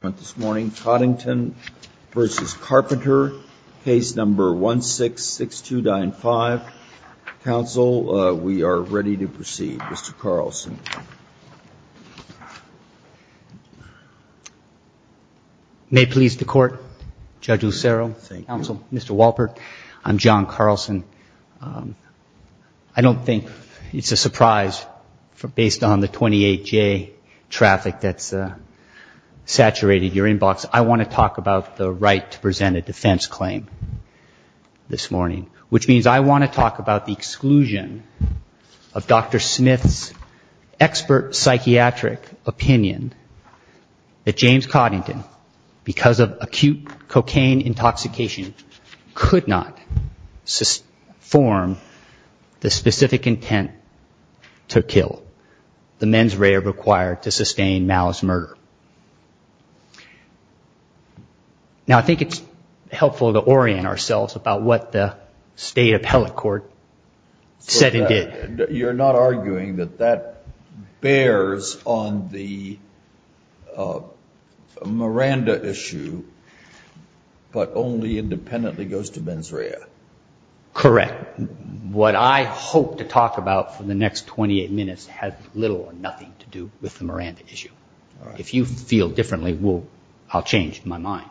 This morning, Coddington v. Carpenter, case number 166295. Counsel, we are ready to proceed. Mr. Carlson. May it please the court, Judge Lucero, counsel, Mr. Walpert, I'm John Carlson. I don't think it's a surprise based on the 28-J traffic that's saturated your inbox. I want to talk about the right to present a defense claim this morning, which means I want to talk about the exclusion of Dr. Smith's expert psychiatric opinion that James Coddington, because of acute cocaine intoxication, could not form the specific intent to kill the mens rea required to sustain Mal's murder. Now, I think it's helpful to orient ourselves about what the state appellate court said and did. You're not arguing that that bears on the Miranda issue, but only independently goes to mens rea? Correct. What I hope to talk about for the next 28 minutes has little or nothing to do with the Miranda issue. If you feel differently, I'll change my mind.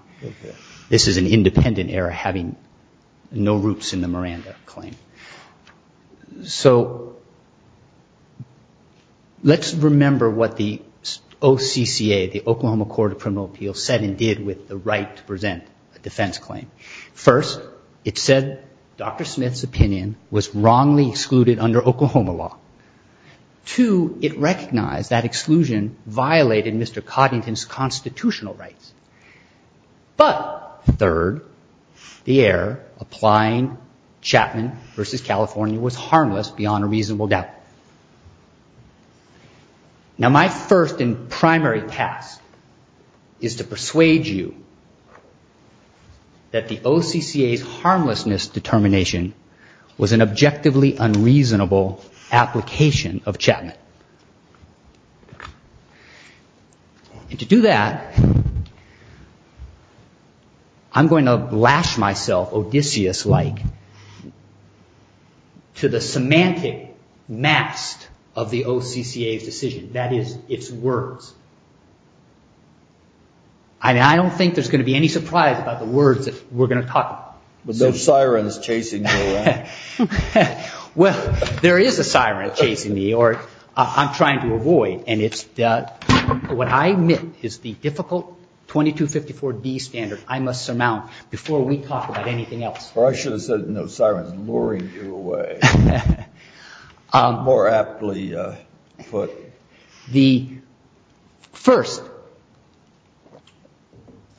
This is an independent error having no roots in the Miranda claim. So let's remember what the OCCA, the Oklahoma Court of Criminal Appeals, said and did with the right to present a defense claim. First, it said Dr. Smith's opinion was wrongly excluded under Oklahoma law. Two, it recognized that exclusion violated Mr. Coddington's constitutional rights. But third, the error applying Chapman v. California was harmless beyond a reasonable doubt. Now, my first and primary task is to persuade you that the OCCA's harmlessness determination was an objectively unreasonable application of Chapman. And to do that, I'm going to lash myself Odysseus-like to the semantic mast of the OCCA's decision. That is, its words. I mean, I don't think there's going to be any surprise about the words that we're going to talk about. With no sirens chasing you around. Well, there is a siren chasing me, or I'm trying to avoid. And it's what I admit is the difficult 2254-D standard I must surmount before we talk about anything else. Or I should have said, no sirens luring you away. More aptly put. The first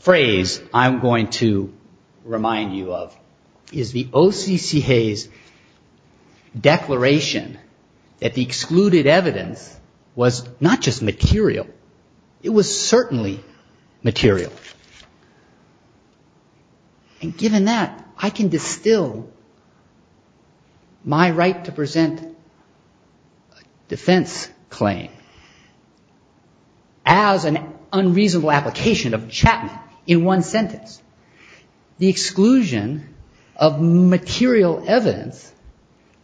phrase I'm going to remind you of is the OCCA's declaration that the excluded evidence was not just material. It was certainly material. And given that, I can distill my right to present a defense claim as an unreasonable application of Chapman in one sentence, the exclusion of material evidence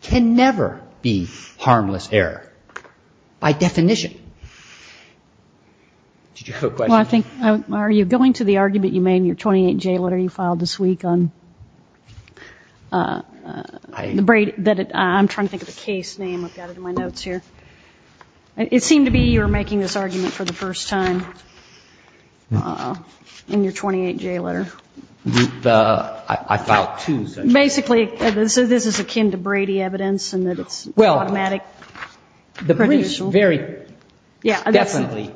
can never be harmless error by definition. Did you have a question? Are you going to the argument you made in your 28-J letter you filed this week on, I'm trying to think of the case name, I've got it in my notes here. It seemed to be you were making this argument for the first time in your 28-J letter. I filed two such cases. Basically, so this is akin to Brady evidence and that it's automatic. The briefs very definitely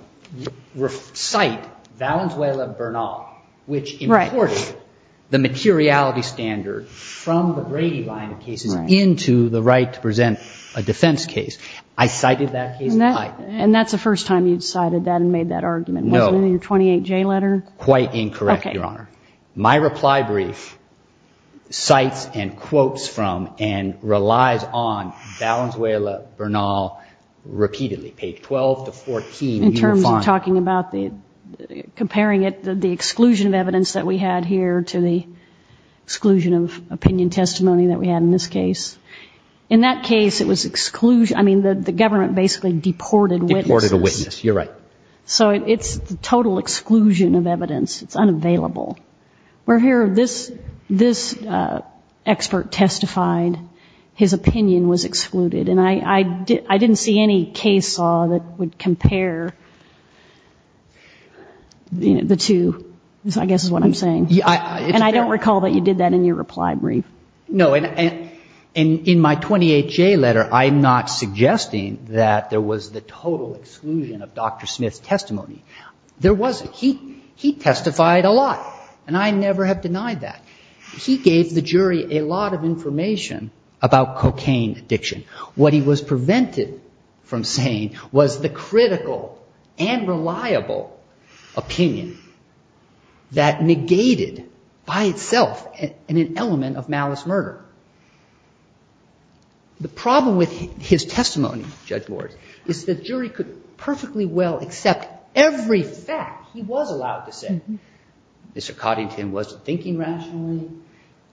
cite Valenzuela-Bernal, which imports the materiality standard from the Brady line of cases into the right to present a defense case. I cited that case. And that's the first time you'd cited that and made that argument, wasn't it, in your 28-J letter? Quite incorrect, Your Honor. My reply brief cites and quotes from and relies on Valenzuela- Bernal repeatedly, page 12 to 14. In terms of talking about the, comparing it, the exclusion of evidence that we had here to the exclusion of opinion testimony that we had in this case. In that case, it was exclusion. I mean, the government basically deported a witness. You're right. So it's the total exclusion of evidence. It's unavailable. We're here, this expert testified his opinion was excluded. And I didn't see any case law that would compare the two, I guess is what I'm saying. And I don't recall that you did that in your reply brief. No, and in my 28-J letter, I'm not suggesting that there was the total exclusion of Dr. Smith's testimony. There wasn't. He testified a lot and I never have denied that. He gave the jury a lot of information about cocaine addiction. What he was prevented from saying was the critical and reliable opinion that negated by itself an element of malice murder. The problem with his testimony, Judge Ward, is the jury could perfectly well accept every fact he was allowed to say. Mr. Coddington wasn't thinking rationally,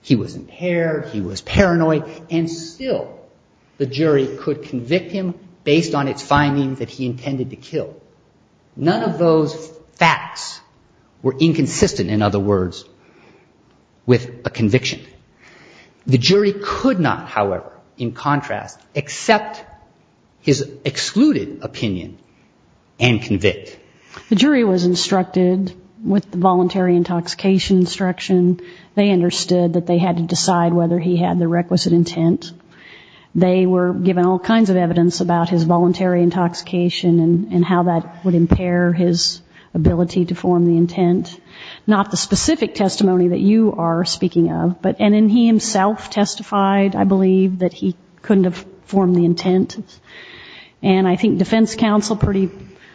he was impaired, he was paranoid, and still the jury could convict him based on its findings that he intended to kill. None of those facts were inconsistent, in other words, with a conviction. The jury could not, however, in contrast, accept his excluded opinion and convict. The jury was instructed with the voluntary intoxication instruction. They understood that they had to decide whether he had the requisite intent. They were given all kinds of evidence about his voluntary intoxication and how that would impair his ability to form the intent. Not the specific testimony that you are speaking of, but, and then he himself testified, I believe, that he couldn't have formed the intent. And I think defense counsel pretty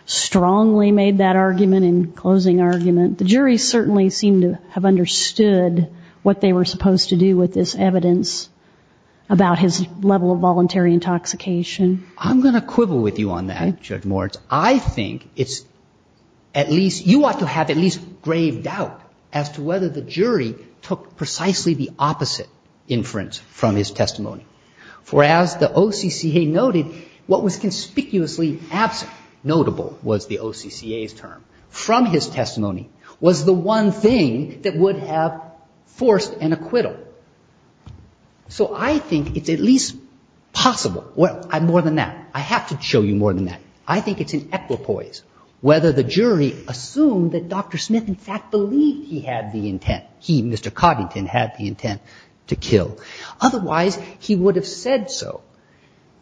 strongly made that argument in closing argument. The jury certainly seemed to have understood what they were supposed to do with this evidence about his level of voluntary intoxication. I'm going to quibble with you on that, Judge Moritz. I think it's at least, you ought to have at least grave doubt as to whether the jury took precisely the opposite inference from his testimony. For as the OCCA noted, what was conspicuously absent, notable was the OCCA's term, from his testimony was the one thing that would have forced an acquittal. So I think it's at least possible. Well, more than that, I have to show you more than that. I think it's an equipoise whether the jury assumed that Dr. Smith in fact believed he had the intent, he, Mr. Coddington, had the intent to kill. Otherwise he would have said so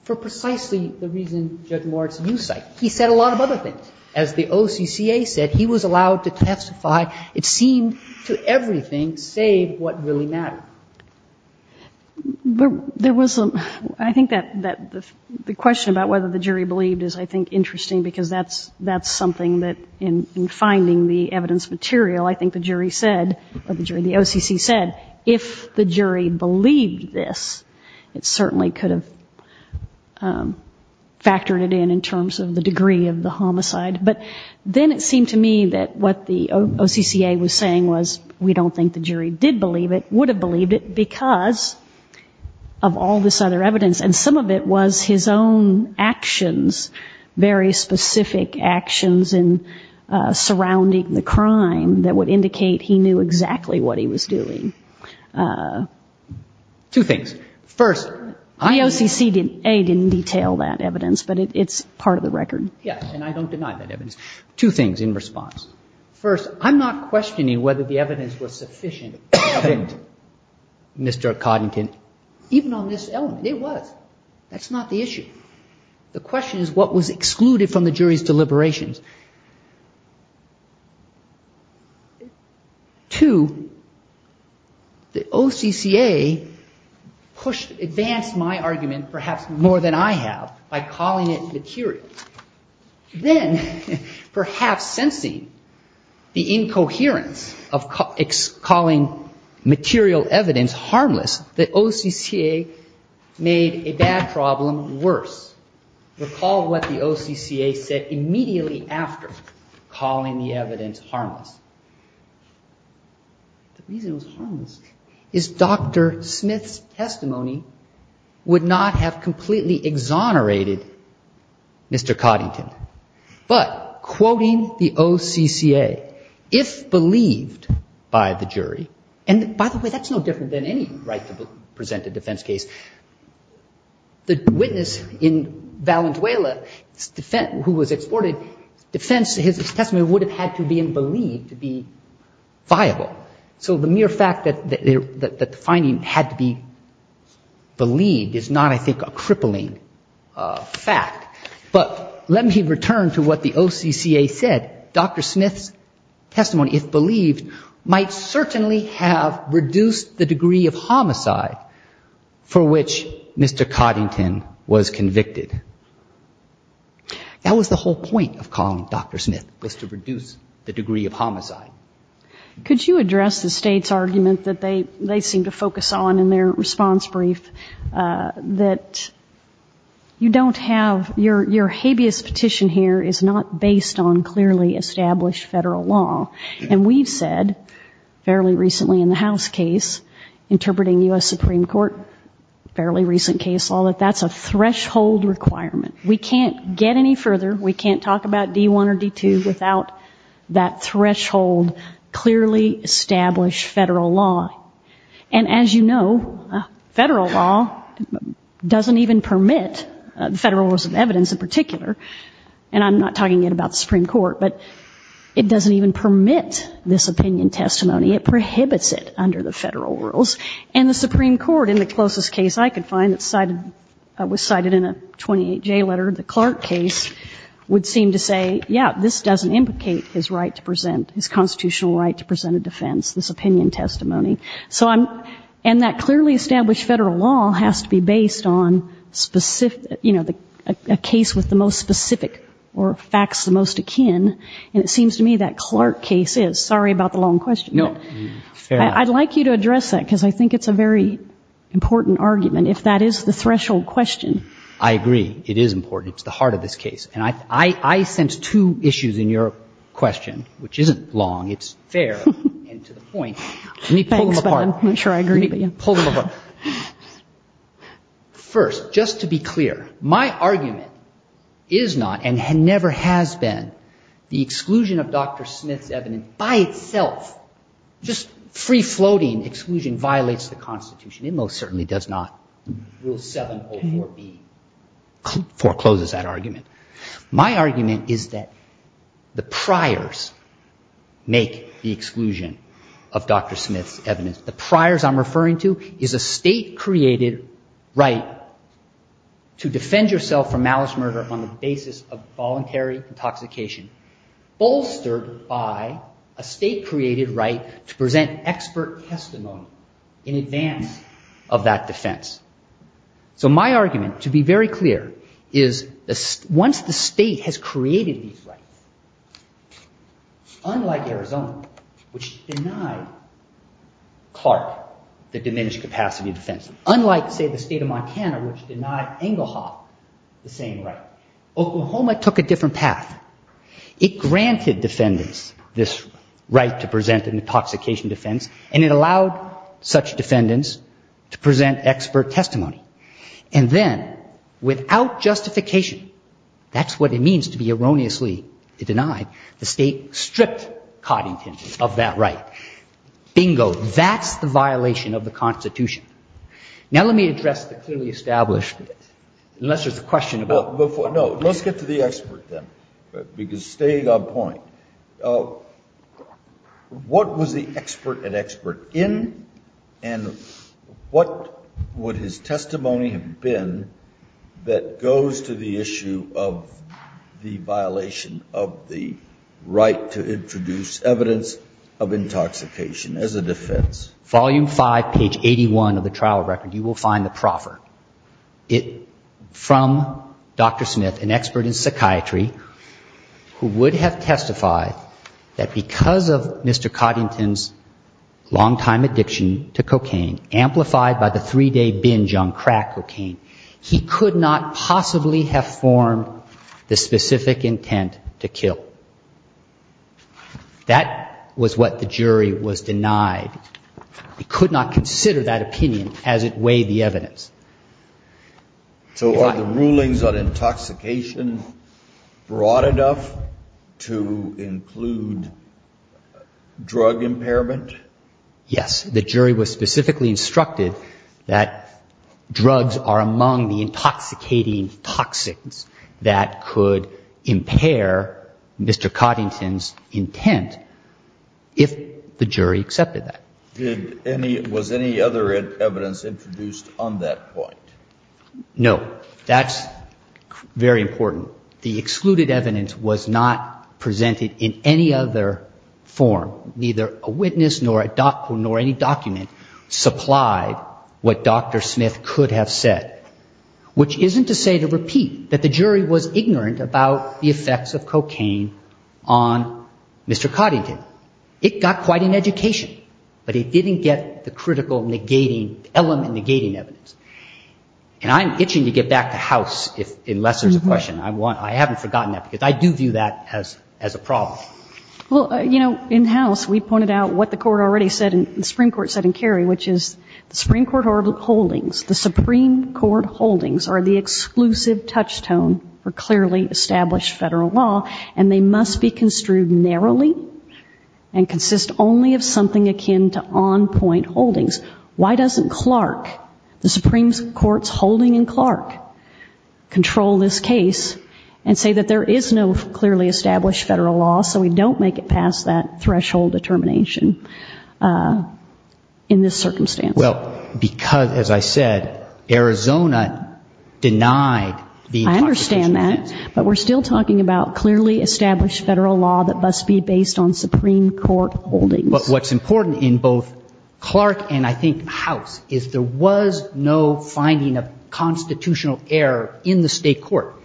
for precisely the reason Judge Moritz you cite. He said a lot of other things. As the OCCA said, he was allowed to testify. It seemed to everything, save what really mattered. There was, I think that the question about whether the jury believed is, I think, interesting because that's something that in finding the evidence material, I think the jury said, or the jury, the OCC said, if the jury believed this, it certainly could have factored it in, in terms of the degree of the homicide. But then it seemed to me that what the OCCA was saying was, we don't think the jury believed it because of all this other evidence. And some of it was his own actions, very specific actions in surrounding the crime that would indicate he knew exactly what he was doing. Two things. First, I OCCA didn't detail that evidence, but it's part of the record. Yes. And I don't deny that evidence. Two things in response. First, I'm not questioning whether the evidence was sufficient. Mr. Coddington, even on this element, it was, that's not the issue. The question is what was excluded from the jury's deliberations. Two, the OCCA pushed, advanced my argument perhaps more than I have by calling it the incoherence of calling material evidence harmless. The OCCA made a bad problem worse. Recall what the OCCA said immediately after calling the evidence harmless. The reason it was harmless is Dr. Smith's testimony would not have completely exonerated Mr. Coddington, but quoting the OCCA, if believed by the jury. And by the way, that's no different than any right to present a defense case. The witness in Valenzuela who was exported, defense, his testimony would have had to be in believed to be viable. So the mere fact that the finding had to be believed is not, I think, a crippling fact, but let me return to what the OCCA said. Dr. Smith's testimony, if believed, might certainly have reduced the degree of homicide for which Mr. Coddington was convicted. That was the whole point of calling Dr. Smith was to reduce the degree of homicide. Could you address the state's argument that they, they seem to focus on in their response brief that you don't have your, your habeas petition here is not based on clearly established federal law. And we've said fairly recently in the house case, interpreting U.S. Supreme court, fairly recent case law, that that's a threshold requirement. We can't get any further. We can't talk about D1 or D2 without that threshold, clearly established federal law. And as you know, federal law doesn't even permit the federal rules of evidence in particular. And I'm not talking yet about the Supreme court, but it doesn't even permit this opinion testimony. It prohibits it under the federal rules and the Supreme court in the closest case I could find that cited was cited in a 28 J letter. The Clark case would seem to say, yeah, this doesn't implicate his right to present his constitutional right to present a defense. This opinion testimony. So I'm, and that clearly established federal law has to be based on specific, you know, the case with the most specific or facts, the most akin. And it seems to me that Clark case is sorry about the long question. No, I'd like you to address that because I think it's a very important argument. If that is the threshold question. I agree. It is important. It's the heart of this case. And I, I, I sense two issues in your question, which isn't long. It's fair. And to the point, let me pull them apart. I'm sure I agree, but yeah, pull them apart first, just to be clear, my argument is not, and had never has been the exclusion of Dr. Smith's evidence by itself, just free floating exclusion violates the constitution. It most certainly does not rule seven or four B forecloses that argument. My argument is that the priors make the exclusion of Dr. Smith's evidence. The priors I'm referring to is a state created right to defend yourself from malice murder on the basis of voluntary intoxication bolstered by a state created right to present expert testimony in advance of that defense. So my argument to be very clear is once the state has created these rights, unlike Arizona, which denied Clark the diminished capacity of defense, unlike say the state of Montana, which denied Engelhoff the same right, Oklahoma took a different path. It granted defendants this right to present an intoxication defense and it allowed such a defense to present expert testimony, and then without justification, that's what it means to be erroneously denied, the state stripped Coddington of that right. Bingo. That's the violation of the constitution. Now let me address the clearly established, unless there's a question about before. No, let's get to the expert then, because staying on point, Oh, what was the expert an expert in and what would his testimony have been that goes to the issue of the violation of the right to introduce evidence of intoxication as a defense? Volume five, page 81 of the trial record, you will find the proffer from Dr. Smith, an expert in psychiatry who would have testified that because of Mr. Coddington's long-time addiction to cocaine, amplified by the three-day binge on crack cocaine, he could not possibly have formed the specific intent to kill. That was what the jury was denied. He could not consider that opinion as it weighed the evidence. So are the rulings on intoxication broad enough to include drug impairment? Yes. The jury was specifically instructed that drugs are among the intoxicating toxins that could impair Mr. Coddington's intent if the jury accepted that. Did any, was any other evidence introduced on that basis? No, that's very important. The excluded evidence was not presented in any other form, neither a witness nor a doc, nor any document supplied what Dr. Smith could have said, which isn't to say to repeat that the jury was ignorant about the effects of cocaine on Mr. Coddington. It got quite an education, but it didn't get the critical negating element, negating evidence. And I'm itching to get back to House if, unless there's a question. I want, I haven't forgotten that because I do view that as, as a problem. Well, you know, in House we pointed out what the court already said and the Supreme Court said in Kerry, which is the Supreme Court holdings, the Supreme Court holdings are the exclusive touchstone for clearly established federal law and they must be construed narrowly and consist only of something akin to on-point holdings. Why doesn't Clark, the Supreme Court's holding in Clark, control this case and say that there is no clearly established federal law, so we don't make it past that threshold determination in this circumstance? Well, because as I said, Arizona denied the... I understand that, but we're still talking about clearly established federal law that must be based on Supreme Court holdings. But what's important in both Clark and I think House is there was no finding of constitutional error in the state court.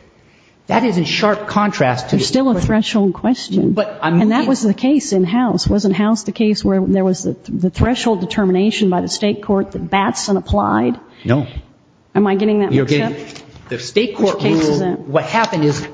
That is in sharp contrast to... There's still a threshold question. But I'm... And that was the case in House. Wasn't House the case where there was the threshold determination by the state court that Batson applied? No. Am I getting that? The state court rule, what happened is...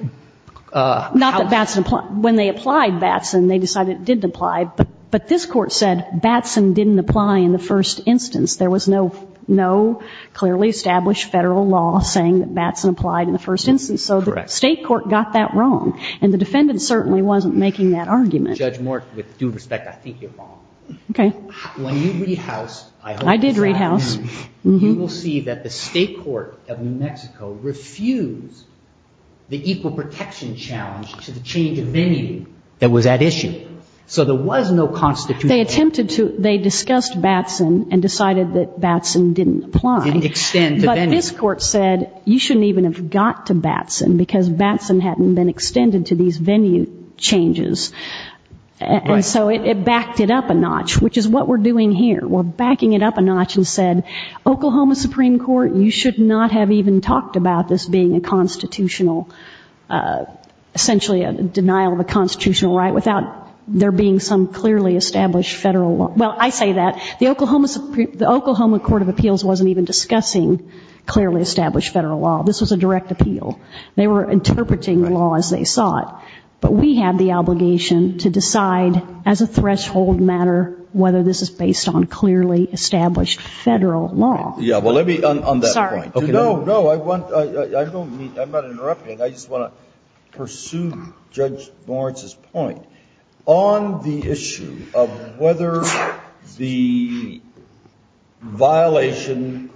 Not that Batson applied, when they applied Batson, they decided it didn't apply. But this court said Batson didn't apply in the first instance. There was no clearly established federal law saying that Batson applied in the first instance. So the state court got that wrong. And the defendant certainly wasn't making that argument. Judge Moore, with due respect, I think you're wrong. Okay. When you read House, I hope... I did read House. You will see that the state court of New Mexico refused the equal protection challenge to the change of venue that was at issue. So there was no constitutional... They attempted to... They discussed Batson and decided that Batson didn't apply. Didn't extend to venue. But this court said, you shouldn't even have got to Batson because Batson hadn't been extended to these venue changes. And so it backed it up a notch, which is what we're doing here. We're backing it up a notch and said, Oklahoma Supreme Court, you should not have even talked about this being a constitutional, essentially a denial of a there being some clearly established federal law. Well, I say that the Oklahoma Court of Appeals wasn't even discussing clearly established federal law. This was a direct appeal. They were interpreting the law as they saw it. But we have the obligation to decide as a threshold matter, whether this is based on clearly established federal law. Yeah. Well, let me on that point. No, no. I want, I don't mean, I'm not interrupting. I just want to pursue Judge Lawrence's point. On the issue of whether the violation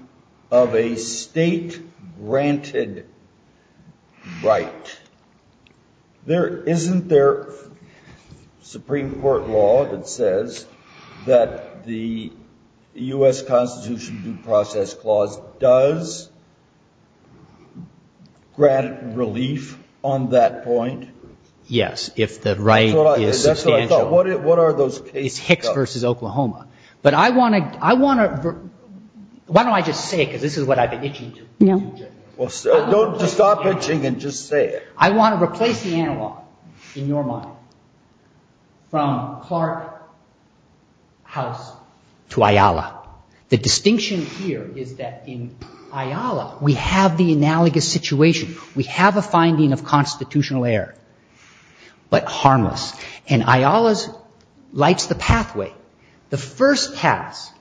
of a state granted right, there, isn't there Supreme Court law that says that the U.S. Constitution due process clause does grant relief on that point? Yes. If the right is substantial. What are those cases? Hicks versus Oklahoma. But I want to, I want to, why don't I just say it? Cause this is what I've been itching to. Well, don't just stop itching and just say it. I want to replace the analog in your mind from Clark House to Ayala. The distinction here is that in Ayala, we have the analogous situation. We have a finding of constitutional error. But harmless and Ayala's lights the pathway. The first pass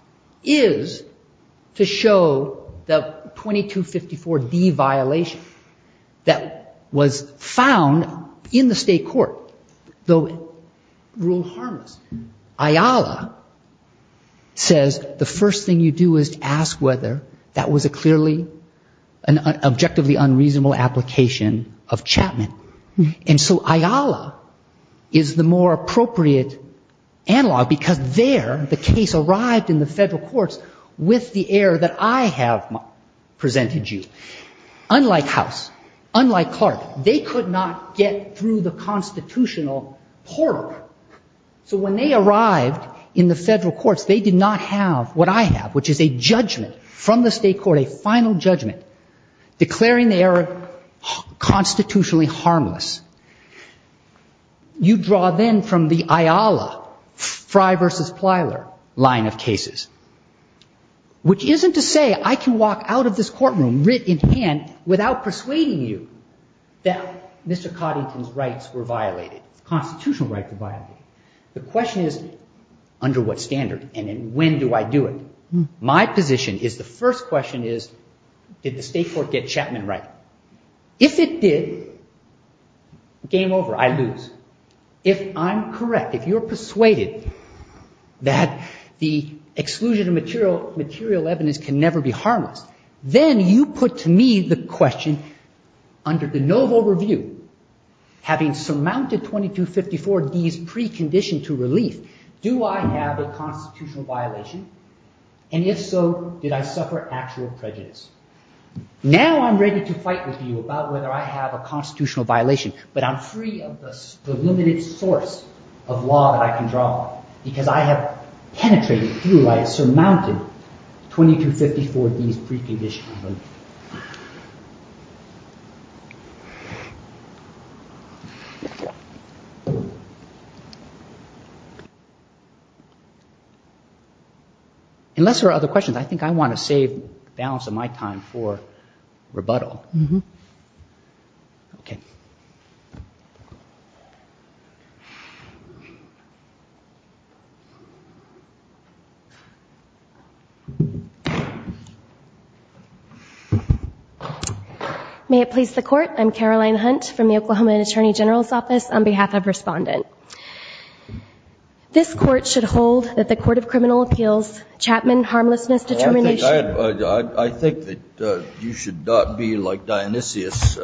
is to show the 2254 D violation that was found in the state court, though it ruled harmless. Ayala says, the first thing you do is ask whether that was a clearly an objectively unreasonable application of Chapman. And so Ayala is the more appropriate analog because there, the case arrived in the federal courts with the air that I have presented you, unlike house, unlike Clark, they could not get through the constitutional portal. So when they arrived in the federal courts, they did not have what I have, which is a judgment from the state court, a final judgment declaring the error constitutionally harmless. You draw then from the Ayala Frye versus Plyler line of cases, which isn't to say I can walk out of this courtroom writ in hand without persuading you that Mr. Coddington's rights were violated, constitutional right to violate. The question is under what standard and when do I do it? My position is the first question is, did the state court get Chapman right? If it did, game over, I lose. If I'm correct, if you're persuaded that the exclusion of material evidence can never be harmless, then you put to me the question under the novel review, having surmounted 2254D's precondition to relief, do I have a constitutional violation? And if so, did I suffer actual prejudice? Now I'm ready to fight with you about whether I have a constitutional violation, but I'm free of the limited source of law that I can draw because I have penetrated through, I have surmounted 2254D's precondition to relief. Unless there are other questions, I think I want to save the balance of my time for the next question. May it please the court. I'm Caroline Hunt from the Oklahoma attorney general's office on behalf of respondent. This court should hold that the court of criminal appeals Chapman harmlessness determination. I think that you should not be like Dionysius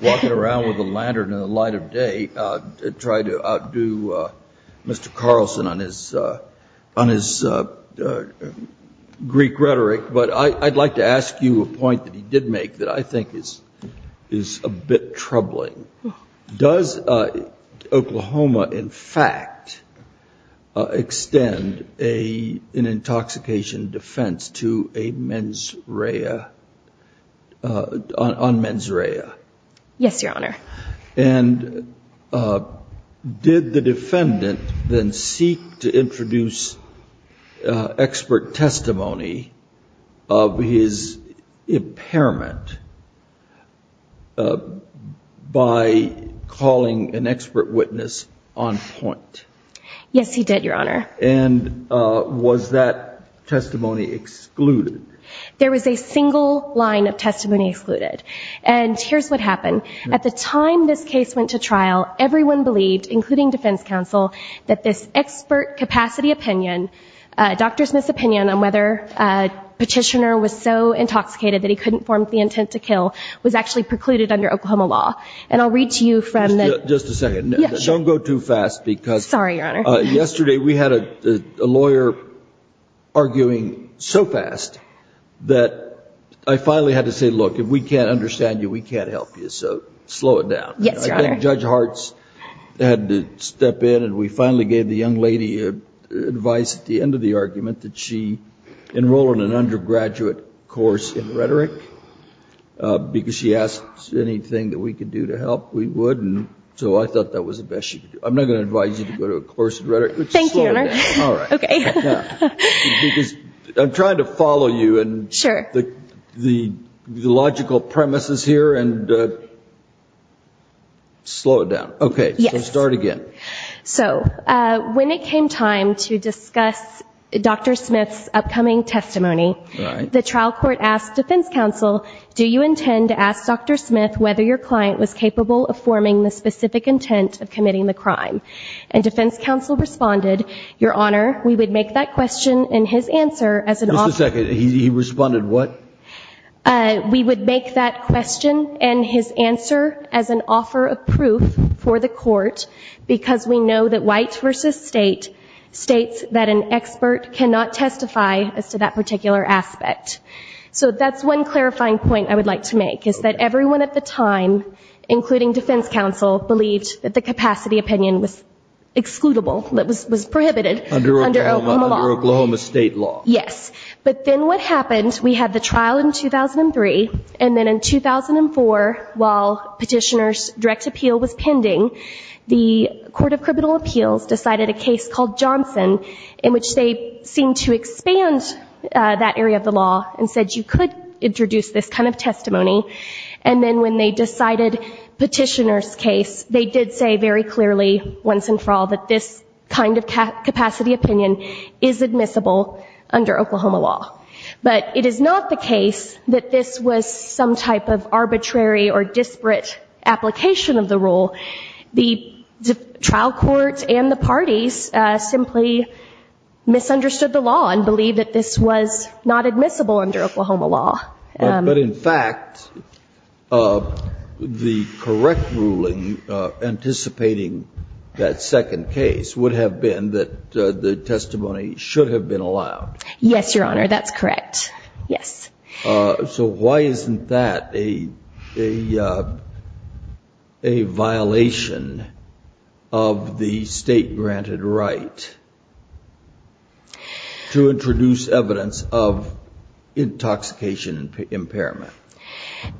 walking around with a lantern in the light of day to try to outdo Mr. Carlson on his Greek rhetoric. But I I'd like to ask you a point that he did make that I think is, is a bit troubling. Does Oklahoma in fact extend a, an intoxication defense to a mens rea on mens rea? Yes, Your Honor. And, uh, did the defendant then seek to introduce, uh, expert testimony of his impairment, uh, by calling an expert witness on point? Yes, he did, Your Honor. And, uh, was that testimony excluded? There was a single line of testimony excluded. And here's what happened. At the time this case went to trial, everyone believed, including defense counsel, that this expert capacity opinion, uh, Dr. Smith's opinion on whether a petitioner was so intoxicated that he couldn't form the intent to kill was actually precluded under Oklahoma law. And I'll read to you from that. Just a second. Don't go too fast because yesterday we had a lawyer arguing so fast that I finally had to say, look, if we can't understand you, we can't help you. So slow it down. Yes, Your Honor. Judge Hartz had to step in and we finally gave the young lady advice at the end of the argument that she enrolled in an undergraduate course in rhetoric, uh, because she asked anything that we could do to help, we would. And so I thought that was the best she could do. I'm not going to advise you to go to a course in rhetoric, but just slow it down. All right. Okay. Yeah. Because I'm trying to follow you and the, the, the logical premises here. And, uh, slow it down. Okay. So start again. So, uh, when it came time to discuss Dr. Smith's upcoming testimony, the trial court asked defense counsel, do you intend to ask Dr. Smith, whether your client was capable of forming the specific intent of committing the crime? And defense counsel responded, Your Honor, we would make that question and his answer as an officer, he responded, what, uh, we would make that question and his answer as an offer of proof for the court, because we know that white versus state states that an expert cannot testify as to that particular aspect. So that's one clarifying point I would like to make is that everyone at the time, including defense counsel, believed that the capacity opinion was. Excludable. That was, was prohibited under Oklahoma state law. Yes. But then what happened, we had the trial in 2003 and then in 2004, while petitioners direct appeal was pending, the court of criminal appeals decided a case called Johnson in which they seem to expand that area of the law and said you could introduce this kind of testimony. And then when they decided petitioner's case, they did say very clearly once and for all that this kind of cap capacity opinion is admissible under Oklahoma law, but it is not the case that this was some type of arbitrary or disparate application of the rule. The trial court and the parties simply misunderstood the law and believe that this was not admissible under Oklahoma law. But in fact, the correct ruling, anticipating that second case would have been that the testimony should have been allowed. Yes, Your Honor. That's correct. Yes. So why isn't that a, a, a violation of the state granted right to introduce evidence of intoxication impairment?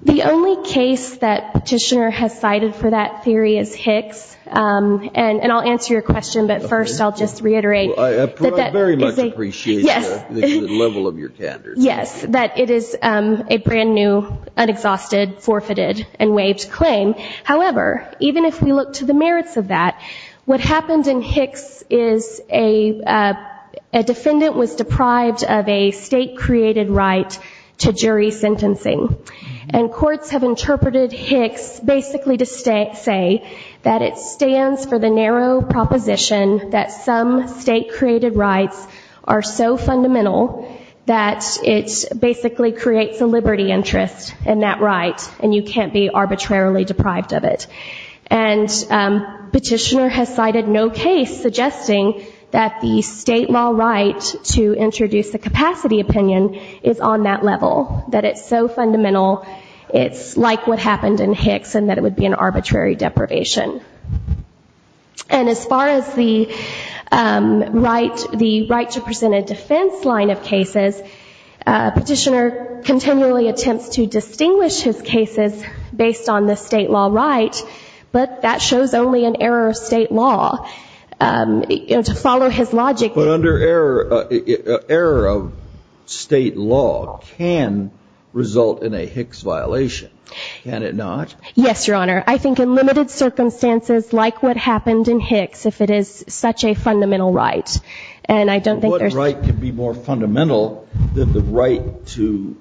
The only case that petitioner has cited for that theory is Hicks. Um, and, and I'll answer your question, but first I'll just reiterate that. I very much appreciate the level of your candor. Yes, that it is, um, a brand new, unexhausted, forfeited and waived claim. However, even if we look to the merits of that, what happened in Hicks is a, uh, a person is deprived of a state created right to jury sentencing and courts have interpreted Hicks basically to stay, say that it stands for the narrow proposition that some state created rights are so fundamental that it basically creates a liberty interest in that right. And you can't be arbitrarily deprived of it. And, um, petitioner has cited no case suggesting that the state law right to introduce the capacity opinion is on that level, that it's so fundamental. It's like what happened in Hicks and that it would be an arbitrary deprivation. And as far as the, um, right, the right to present a defense line of cases, uh, petitioner continually attempts to distinguish his cases based on the state law right, but that shows only an error of state law, um, to follow his logic. But under error, uh, error of state law can result in a Hicks violation. Can it not? Yes, Your Honor. I think in limited circumstances, like what happened in Hicks, if it is such a fundamental right, and I don't think there's right to be more fundamental than the right to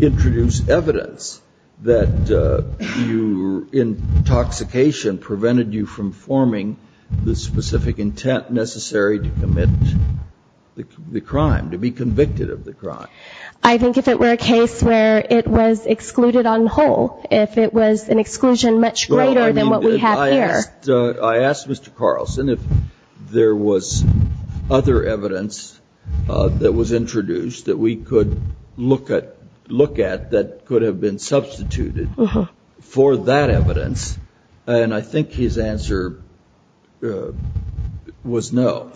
introduce evidence that, uh, you, in intoxication prevented you from forming the specific intent necessary to commit the crime, to be convicted of the crime. I think if it were a case where it was excluded on whole, if it was an exclusion much greater than what we have here, I asked Mr. Carlson, if there was other evidence, uh, that was introduced that we could look at, look at that could have been substituted for that evidence. And I think his answer, uh, was no.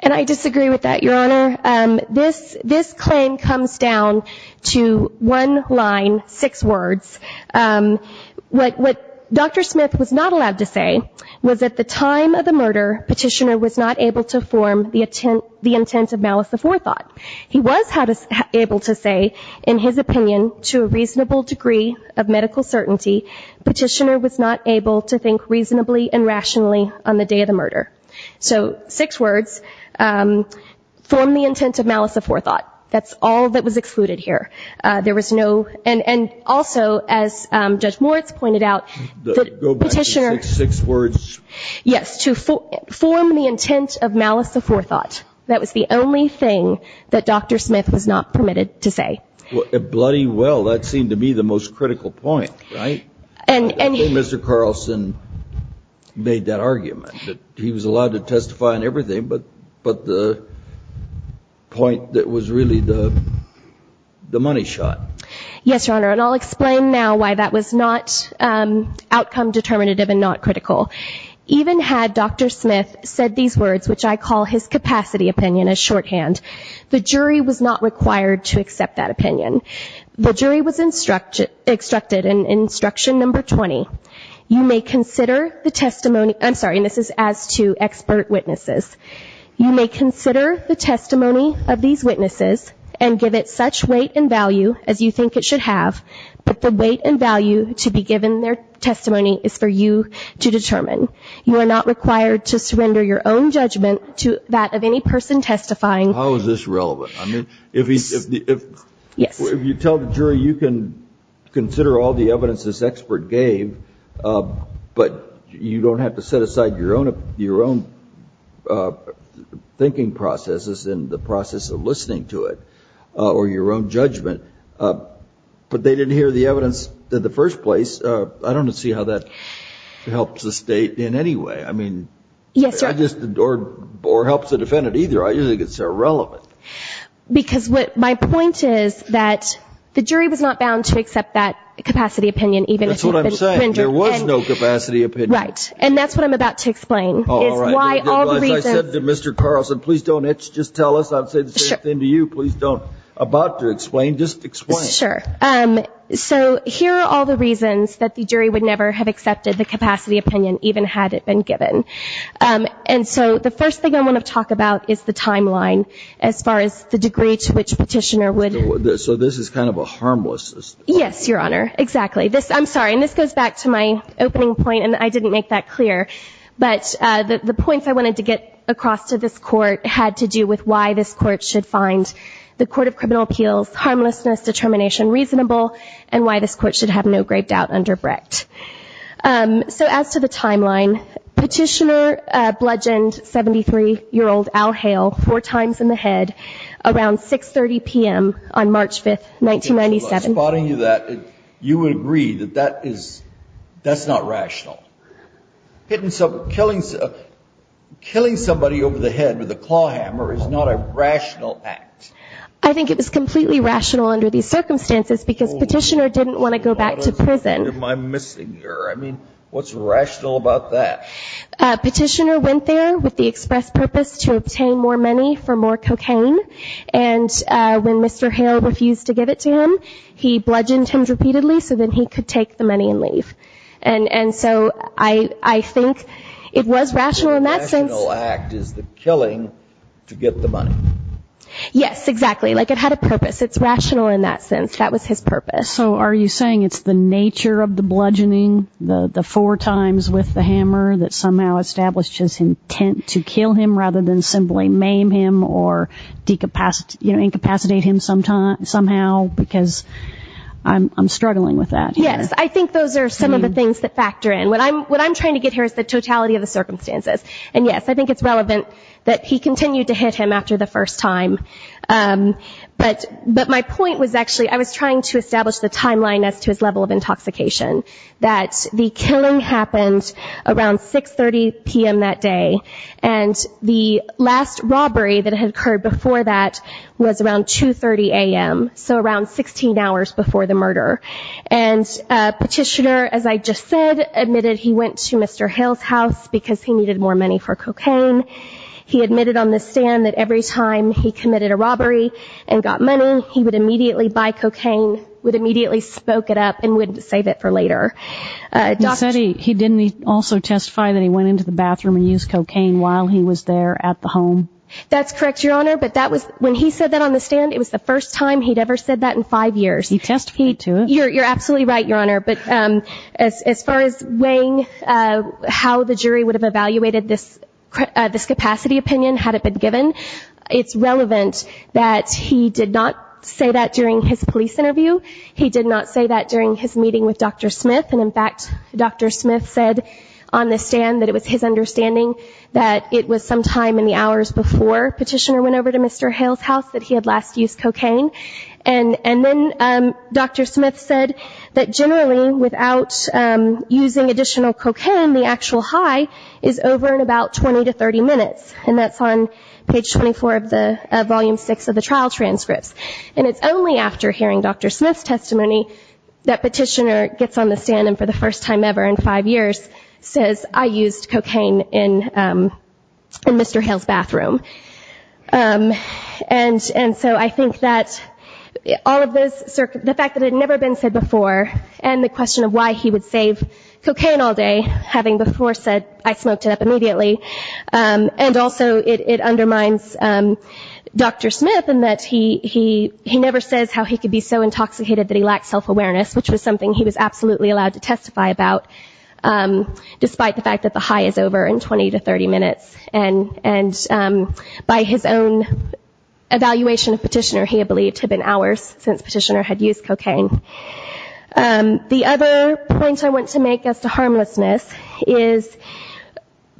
And I disagree with that, Your Honor. Um, this, this claim comes down to one line, six words. Um, what, what Dr. Smith was not allowed to say was at the time of the murder, petitioner was not able to form the intent, the intent of malice of forethought. He was able to say in his opinion, to a reasonable degree of medical certainty, petitioner was not able to think reasonably and rationally on the day of the murder. So six words, um, form the intent of malice of forethought. That's all that was excluded here. Uh, there was no, and, and also as, um, judge Moritz pointed out, the petitioner six words, yes, to form the intent of malice of forethought. That was the only thing that Dr. Smith was not permitted to say. Well, bloody well, that seemed to be the most critical point, right? And Mr. Carlson made that argument that he was allowed to testify on everything, but, but the point that was really the, the money shot. Yes, Your Honor. And I'll explain now why that was not, um, outcome determinative and not critical. Even had Dr. Smith said these words, which I call his capacity opinion as shorthand, the jury was not required to accept that opinion. The jury was instructed, instructed in instruction number 20. You may consider the testimony. I'm sorry. And this is as to expert witnesses. You may consider the testimony of these witnesses and give it such weight and value as you think it should have, but the weight and value to be given their testimony is for you to determine. You are not required to surrender your own judgment to that of any person testifying. How is this relevant? I mean, if he's, if, if you tell the jury, you can consider all the evidence this expert gave, uh, but you don't have to set aside your own, your own, uh, thinking processes in the process of listening to it, uh, or your own judgment. Uh, but they didn't hear the evidence in the first place. Uh, I don't see how that helps the state in any way. I mean, I just, or, or helps the defendant either. I usually get so relevant. Because what my point is that the jury was not bound to accept that capacity opinion, even if there was no capacity, right? And that's what I'm about to explain. Mr. Carlson, please don't itch. Just tell us, I'd say the same thing to you. Please don't about to explain, just explain. Sure. Um, so here are all the reasons that the jury would never have accepted the capacity opinion, even had it been given. Um, and so the first thing I want to talk about is the timeline, as far as the degree to which petitioner would, so this is kind of a harmless. Yes, Your Honor. Exactly. This I'm sorry. And this goes back to my opening point and I didn't make that clear, but, uh, the, the points I wanted to get across to this court had to do with why this court should find the court of criminal appeals, harmlessness, determination, reasonable, and why this court should have no great doubt under Brecht. Um, so as to the timeline, petitioner, uh, bludgeoned 73 year old Al Hale four times in the head around 6 30 PM on March 5th, 1997. I'm spotting you that you would agree that that is, that's not rational. Hitting some killing, killing somebody over the head with a claw hammer is not a rational act. I think it was completely rational under these circumstances because petitioner didn't want to go back to prison. Am I missing her? I mean, what's rational about that? Uh, petitioner went there with the express purpose to obtain more money for more cocaine. And, uh, when Mr. Hale refused to give it to him, he bludgeoned him repeatedly. So then he could take the money and leave. And, and so I, I think it was rational in that sense. Is the killing to get the money? Yes, exactly. Like it had a purpose. It's rational in that sense. That was his purpose. So are you saying it's the nature of the bludgeoning the, the four times with the hammer that somehow established his intent to kill him rather than simply maim him or decapacity, you know, incapacitate him sometime, somehow, because I'm, I'm struggling with that. Yes. I think those are some of the things that factor in what I'm, what I'm trying to get here is the totality of the circumstances. And yes, I think it's relevant that he continued to hit him after the first time. Um, but, but my point was actually, I was trying to establish the timeline as to his level of intoxication that the killing happened around 6 30 PM that day. And the last robbery that had occurred before that was around 2 30 AM. So around 16 hours before the murder and a petitioner, as I just said, admitted he went to Mr. Hill's house because he needed more money for cocaine. He admitted on the stand that every time he committed a robbery and got money, he would immediately buy cocaine, would immediately spoke it up and wouldn't save it for later. Uh, he said he, he didn't also testify that he went into the bathroom and use cocaine while he was there at the home. That's correct, your honor. But that was when he said that on the stand, it was the first time he'd ever said that in five years. He testified to it. You're, you're absolutely right, your honor. But, um, as, as far as weighing, uh, how the jury would have evaluated this, uh, this capacity opinion, had it been given, it's relevant that he did not say that during his police interview. He did not say that during his meeting with Dr. Smith. And in fact, Dr. Smith said on the stand that it was his understanding that it was sometime in the hours before petitioner went over to Mr. Hill's house that he had last used cocaine. And, and then, um, Dr. Smith said that generally without, um, using additional cocaine, the actual high is over in about 20 to 30 minutes. And that's on page 24 of the, uh, volume six of the trial transcripts. And it's only after hearing Dr. Smith's testimony that petitioner gets on the stand and for the first time ever in five years says I used cocaine in, um, in Mr. Hill's bathroom. Um, and, and so I think that all of this circuit, the fact that it had never been said before, and the question of why he would save cocaine all day having before said, I smoked it up immediately. Um, and also it, it undermines, um, Dr. Smith and that he, he, he never says how he could be so intoxicated that he lacked self-awareness, which was something he was absolutely allowed to testify about. Um, despite the fact that the high is over in 20 to 30 minutes and, and, um, by his own evaluation of petitioner, he had believed to have been hours since petitioner had used cocaine. Um, the other point I want to make as to harmlessness is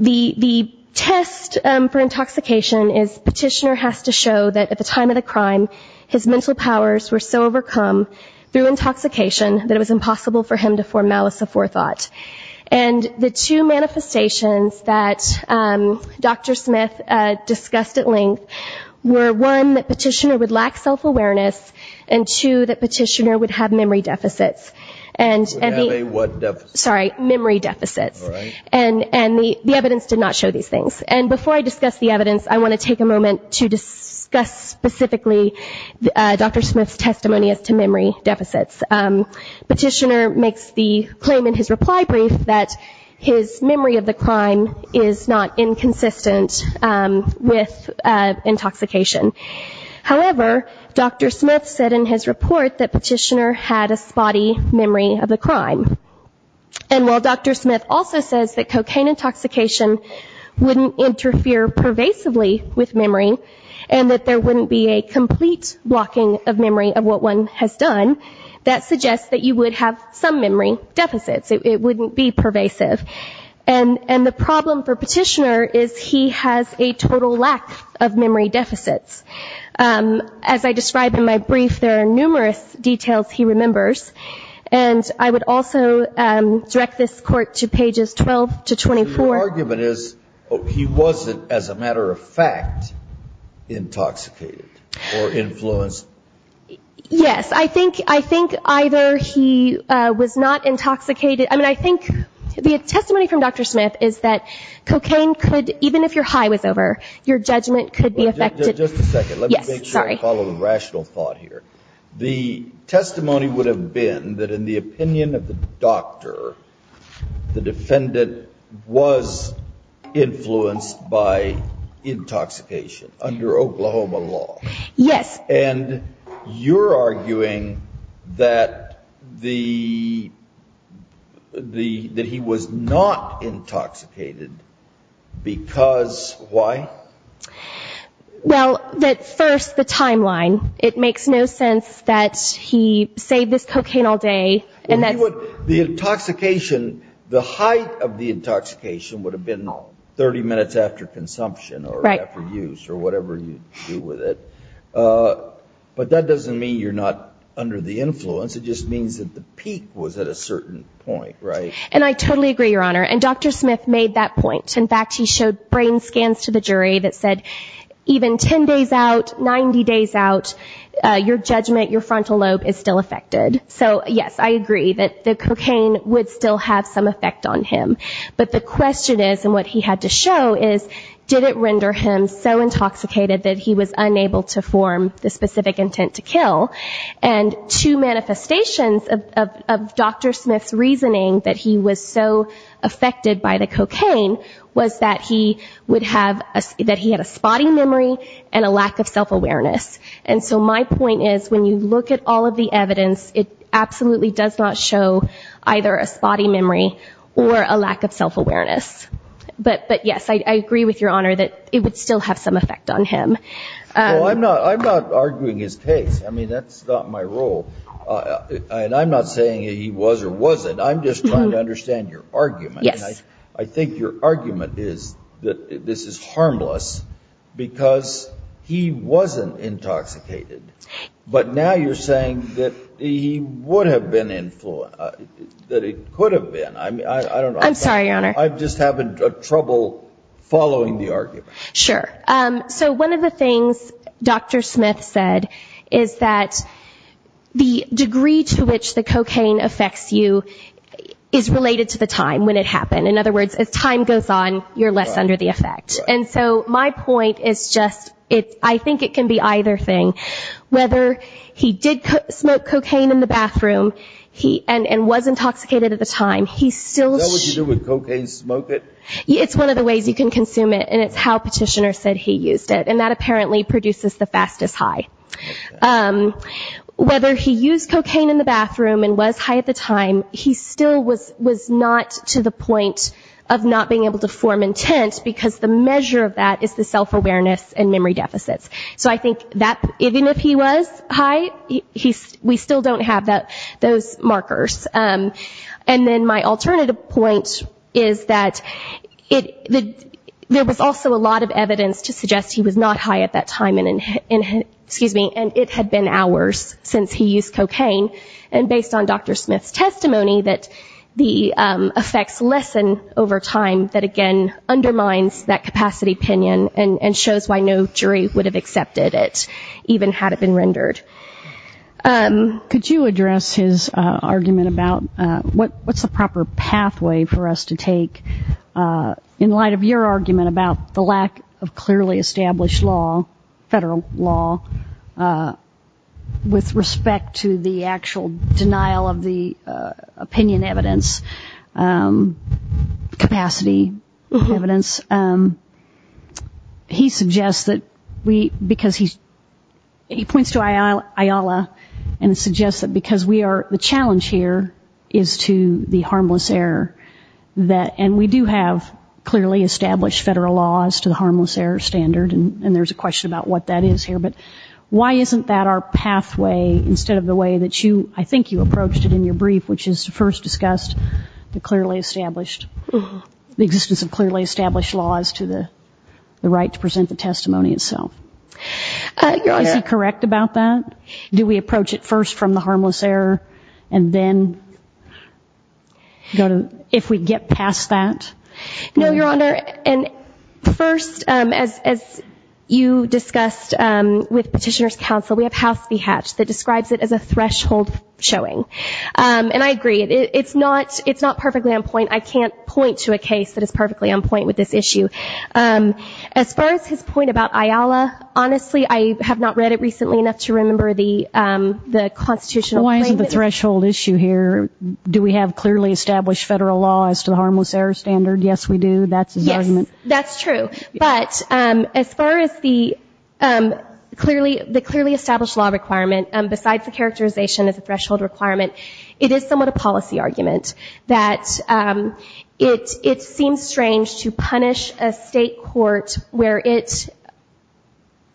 the, the test, um, for intoxication is petitioner has to show that at the time of the crime, his mental powers were so overcome through intoxication that it was impossible for him to form malice of forethought. And the two manifestations that, um, Dr. Smith, uh, discussed at length were one that petitioner would lack self-awareness and two that petitioner would have memory deficits and sorry, memory deficits. And, and the, the evidence did not show these things. And before I discuss the evidence, I want to take a moment to discuss specifically, uh, Dr. Smith's testimony as to memory deficits. Um, petitioner makes the claim in his reply brief that his memory of the crime is not inconsistent, um, with, uh, intoxication. However, Dr. Smith said in his report that petitioner had a spotty memory of the crime. And while Dr. Smith also says that cocaine intoxication wouldn't interfere pervasively with memory and that there wouldn't be a complete blocking of memory of what one has done, that suggests that you would have some memory deficits. It wouldn't be pervasive. And, and the problem for petitioner is he has a total lack of memory deficits. Um, as I described in my brief, there are numerous details he remembers, and I would also, um, direct this court to pages 12 to 24. Your argument is he wasn't, as a matter of fact, intoxicated or influenced. Yes, I think, I think either he, uh, was not intoxicated. I mean, I think the testimony from Dr. Smith is that cocaine could, even if your high was over, your judgment could be just a second. Let me make sure I follow the rational thought here. The testimony would have been that in the opinion of the doctor, the defendant was influenced by intoxication under Oklahoma law. Yes. And you're arguing that the, the, that he was not intoxicated because why? Well, that first, the timeline, it makes no sense that he saved this cocaine all day. And that the intoxication, the height of the intoxication would have been 30 minutes after consumption or after use or whatever you do with it. Uh, but that doesn't mean you're not under the influence. It just means that the peak was at a certain point, right? And I totally agree, Your Honor. And Dr. Smith made that point. In fact, he showed brain scans to the jury that said even 10 days out, 90 days out, your judgment, your frontal lobe is still affected. So yes, I agree that the cocaine would still have some effect on him. But the question is, and what he had to show is, did it render him so intoxicated that he was unable to form the specific intent to kill? And two manifestations of, of, of Dr. cocaine was that he would have a, that he had a spotty memory and a lack of self awareness. And so my point is, when you look at all of the evidence, it absolutely does not show either a spotty memory or a lack of self-awareness, but, but yes, I agree with your honor that it would still have some effect on him. Well, I'm not, I'm not arguing his case. I mean, that's not my role and I'm not saying he was or wasn't. I'm just trying to understand your argument. I think your argument is that this is harmless because he wasn't intoxicated, but now you're saying that he would have been influenced, that it could have been. I mean, I don't know. I'm sorry, your honor. I'm just having trouble following the argument. Sure. Um, so one of the things Dr. Smith said is that the degree to which the cocaine affects you is related to the time when it happened. In other words, as time goes on, you're less under the effect. And so my point is just, it's, I think it can be either thing, whether he did smoke cocaine in the bathroom, he, and, and was intoxicated at the time. He's still, it's one of the ways you can consume it. And it's how petitioner said he used it. And that apparently produces the fastest high, um, whether he used cocaine in the to the point of not being able to form intent because the measure of that is the self awareness and memory deficits. So I think that even if he was high, he's, we still don't have that, those markers. Um, and then my alternative point is that it, the, there was also a lot of evidence to suggest he was not high at that time. And, and, excuse me, and it had been hours since he used cocaine. And based on Dr. Smith's testimony that the, um, effects lessen over time that again, undermines that capacity opinion and, and shows why no jury would have accepted it even had it been rendered. Um, could you address his, uh, argument about, uh, what, what's the proper pathway for us to take, uh, in light of your argument about the lack of clearly established law, federal law, uh, with respect to the actual denial of the, uh, opinion evidence, um, capacity evidence. Um, he suggests that we, because he's, he points to Ayala and suggests that because we are, the challenge here is to the harmless error that, and we do have clearly established federal laws to the harmless error standard. And there's a question about what that is here, but why isn't that our pathway instead of the way that you, I think you approached it in your brief, which is to first discussed the clearly established, the existence of clearly established laws to the, the right to present the testimony itself. Uh, is he correct about that? Do we approach it first from the harmless error and then go to, if we get past that? No, Your Honor. And first, um, as, as you discussed, um, with petitioner's counsel, we have House v. Hatch that describes it as a threshold showing. Um, and I agree it, it's not, it's not perfectly on point. I can't point to a case that is perfectly on point with this issue. Um, as far as his point about Ayala, honestly, I have not read it recently enough to remember the, um, the constitutional. Why isn't the threshold issue here? Do we have clearly established federal law as to the harmless error standard? Yes, we do. That's his argument. That's true. But, um, as far as the, um, clearly, the clearly established law requirement, um, besides the characterization as a threshold requirement, it is somewhat a policy argument that, um, it, it seems strange to punish a state court where it's.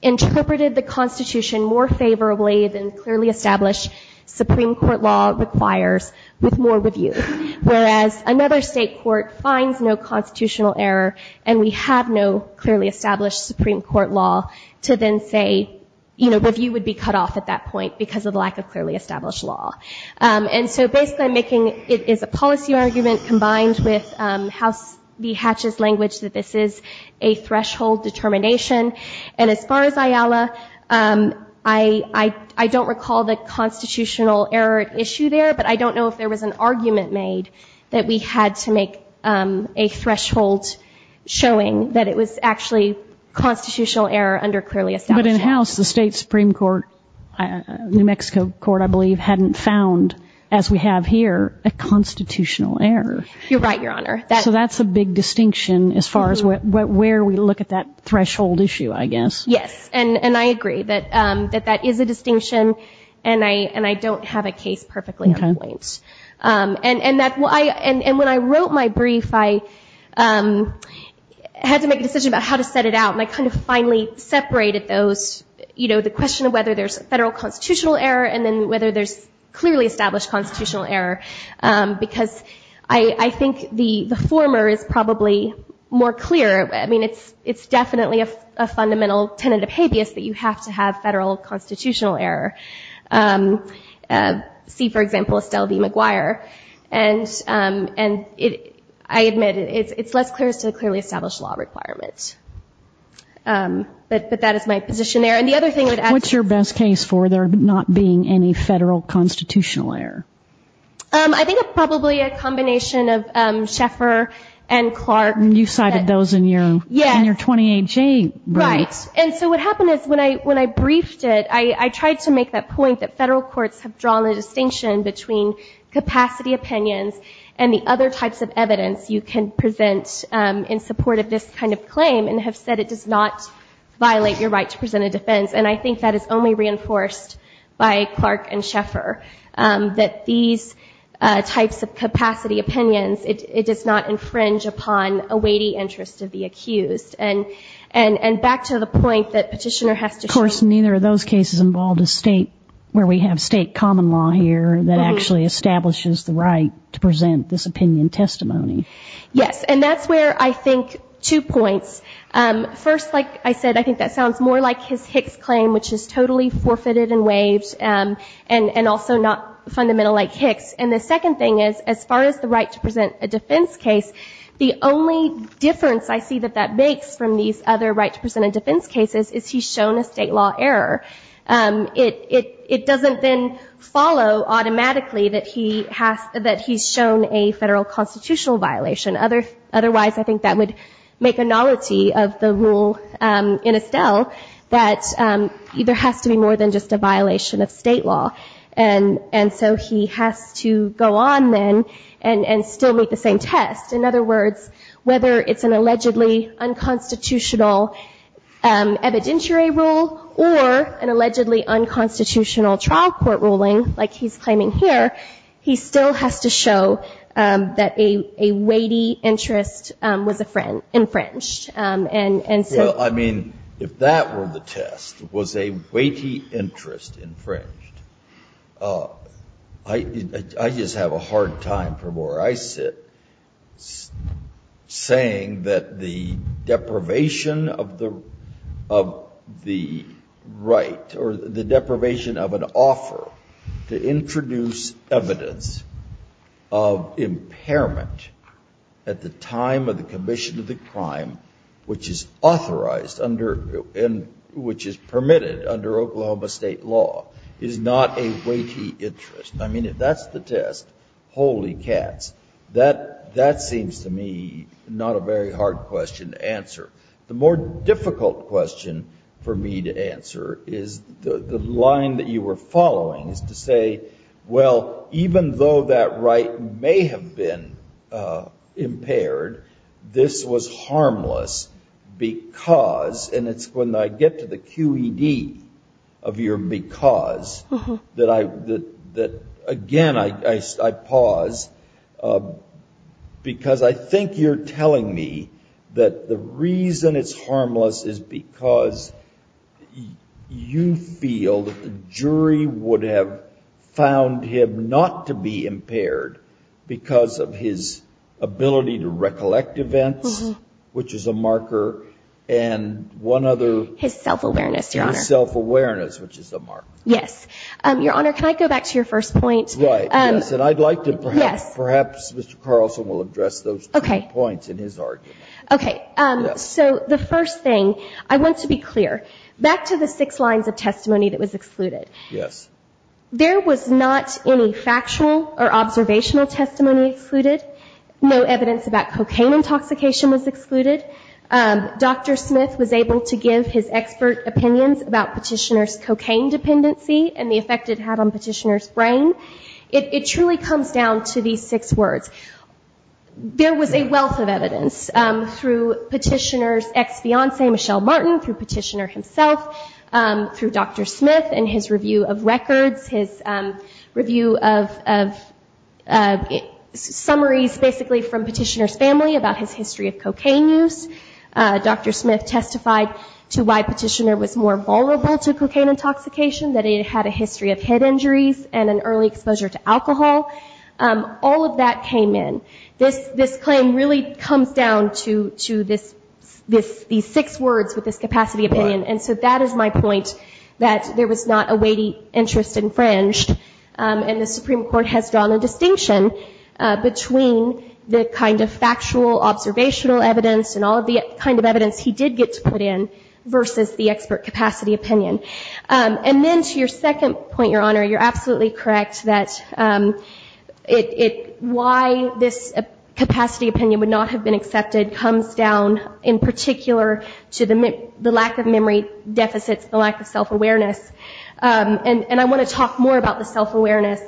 Interpreted the constitution more favorably than clearly established Supreme Court law requires with more review, whereas another state court finds no constitutional error and we have no clearly established Supreme Court law to then say, you know, review would be cut off at that point because of the lack of clearly established law. Um, and so basically I'm making, it is a policy argument combined with, um, House v. Hatch's language that this is a threshold determination. And as far as Ayala, um, I, I, I don't recall the constitutional error issue there, but I don't know if there was an argument made that we had to make, um, a threshold showing that it was actually constitutional error under clearly established. But in house, the state Supreme Court, New Mexico court, I believe hadn't found as we have here, a constitutional error. You're right. Your honor. That's a big distinction as far as where we look at that threshold issue, I guess. Yes. And, and I agree that, um, that that is a distinction and I, and I don't have a case perfectly on point. Um, and, and that I, and when I wrote my brief, I, um, had to make a decision about how to set it out and I kind of finally separated those, you know, the question of whether there's federal constitutional error and then whether there's clearly established constitutional error. Um, because I, I think the, the former is probably more clear. I mean, it's, it's definitely a fundamental tenet of habeas that you have to have federal constitutional error. Um, uh, see, for example, Estelle B. McGuire and, um, and it, I admit it, it's, it's less clear as to the clearly established law requirements. Um, but, but that is my position there. And the other thing I would add. What's your best case for there not being any federal constitutional error? Um, I think it's probably a combination of, um, Sheffer and Clark. And you cited those in your, in your 28-J rights. And so what happened is when I, when I briefed it, I, I tried to make that point that federal courts have drawn a distinction between capacity opinions and the other types of evidence you can present, um, in support of this kind of claim and have said, it does not violate your right to present a defense. And I think that is only reinforced by Clark and Sheffer, um, that these, uh, a weighty interest of the accused and, and, and back to the point that petitioner has to course, neither of those cases involved a state where we have state common law here that actually establishes the right to present this opinion testimony. Yes. And that's where I think two points, um, first, like I said, I think that sounds more like his Hicks claim, which is totally forfeited and waived. Um, and, and also not fundamental like Hicks. And the second thing is, as far as the right to present a defense case, the only difference I see that that makes from these other right to present a defense cases is he's shown a state law error. Um, it, it, it doesn't then follow automatically that he has, that he's shown a federal constitutional violation. Other, otherwise I think that would make a novelty of the rule, um, in Estelle that, um, there has to be more than just a violation of state law. And, and so he has to go on then and, and still make the same test. In other words, whether it's an allegedly unconstitutional, um, evidentiary rule or an allegedly unconstitutional trial court ruling, like he's claiming here, he still has to show, um, that a, a weighty interest, um, was a friend infringed, um, and, and so. Well, I mean, if that were the test was a weighty interest infringed, uh, I, I just have a hard time from where I sit saying that the deprivation of the, of the right or the deprivation of an offer to introduce evidence of impairment at the time of the commission of the crime, which is authorized under and which is permitted under Oklahoma state law is not a weighty interest. I mean, if that's the test, holy cats, that, that seems to me not a very hard question to answer. The more difficult question for me to answer is the line that you were following is to say, well, even though that right may have been, uh, impaired, this was Again, I, I, I pause, uh, because I think you're telling me that the reason it's harmless is because you feel that the jury would have found him not to be impaired because of his ability to recollect events, which is a marker. His self-awareness, Your Honor. Self-awareness, which is a marker. Yes. Your Honor, can I go back to your first point? Right. Yes. And I'd like to perhaps, perhaps Mr. Carlson will address those two points in his argument. Okay. Um, so the first thing I want to be clear back to the six lines of testimony that was excluded. Yes. There was not any factual or observational testimony excluded. No evidence about cocaine intoxication was excluded. Um, Dr. Smith was able to give his expert opinions about petitioner's cocaine dependency and the effect it had on petitioner's brain. It truly comes down to these six words. There was a wealth of evidence, um, through petitioner's ex-fiance, Michelle Martin, through petitioner himself, um, through Dr. Smith and his review of records, his, um, review of, of, uh, summaries basically from petitioner's family about his history of cocaine use. Uh, Dr. Smith testified to why petitioner was more vulnerable to cocaine intoxication that he had a history of head injuries and an early exposure to alcohol. Um, all of that came in this, this claim really comes down to, to this, this, these six words with this capacity opinion. And so that is my point that there was not a weighty interest infringed. Um, and the Supreme court has drawn a distinction, uh, between the kind of factual observational evidence and all of the kind of evidence he did get to put in versus the expert capacity opinion. Um, and then to your second point, your honor, you're absolutely correct that, um, it, it, why this capacity opinion would not have been accepted comes down in particular to the, the lack of memory deficits, the lack of self-awareness. Um, and, and I want to talk more about the self-awareness.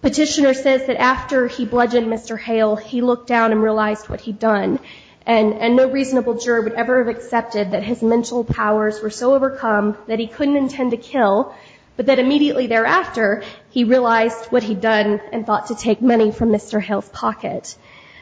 Petitioner says that after he bludgeoned Mr. Hale, he looked down and realized what he'd done and no reasonable juror would ever have accepted that his mental powers were so overcome that he couldn't intend to kill, but that immediately thereafter he realized what he'd done and thought to take money from Mr. Hale's pocket.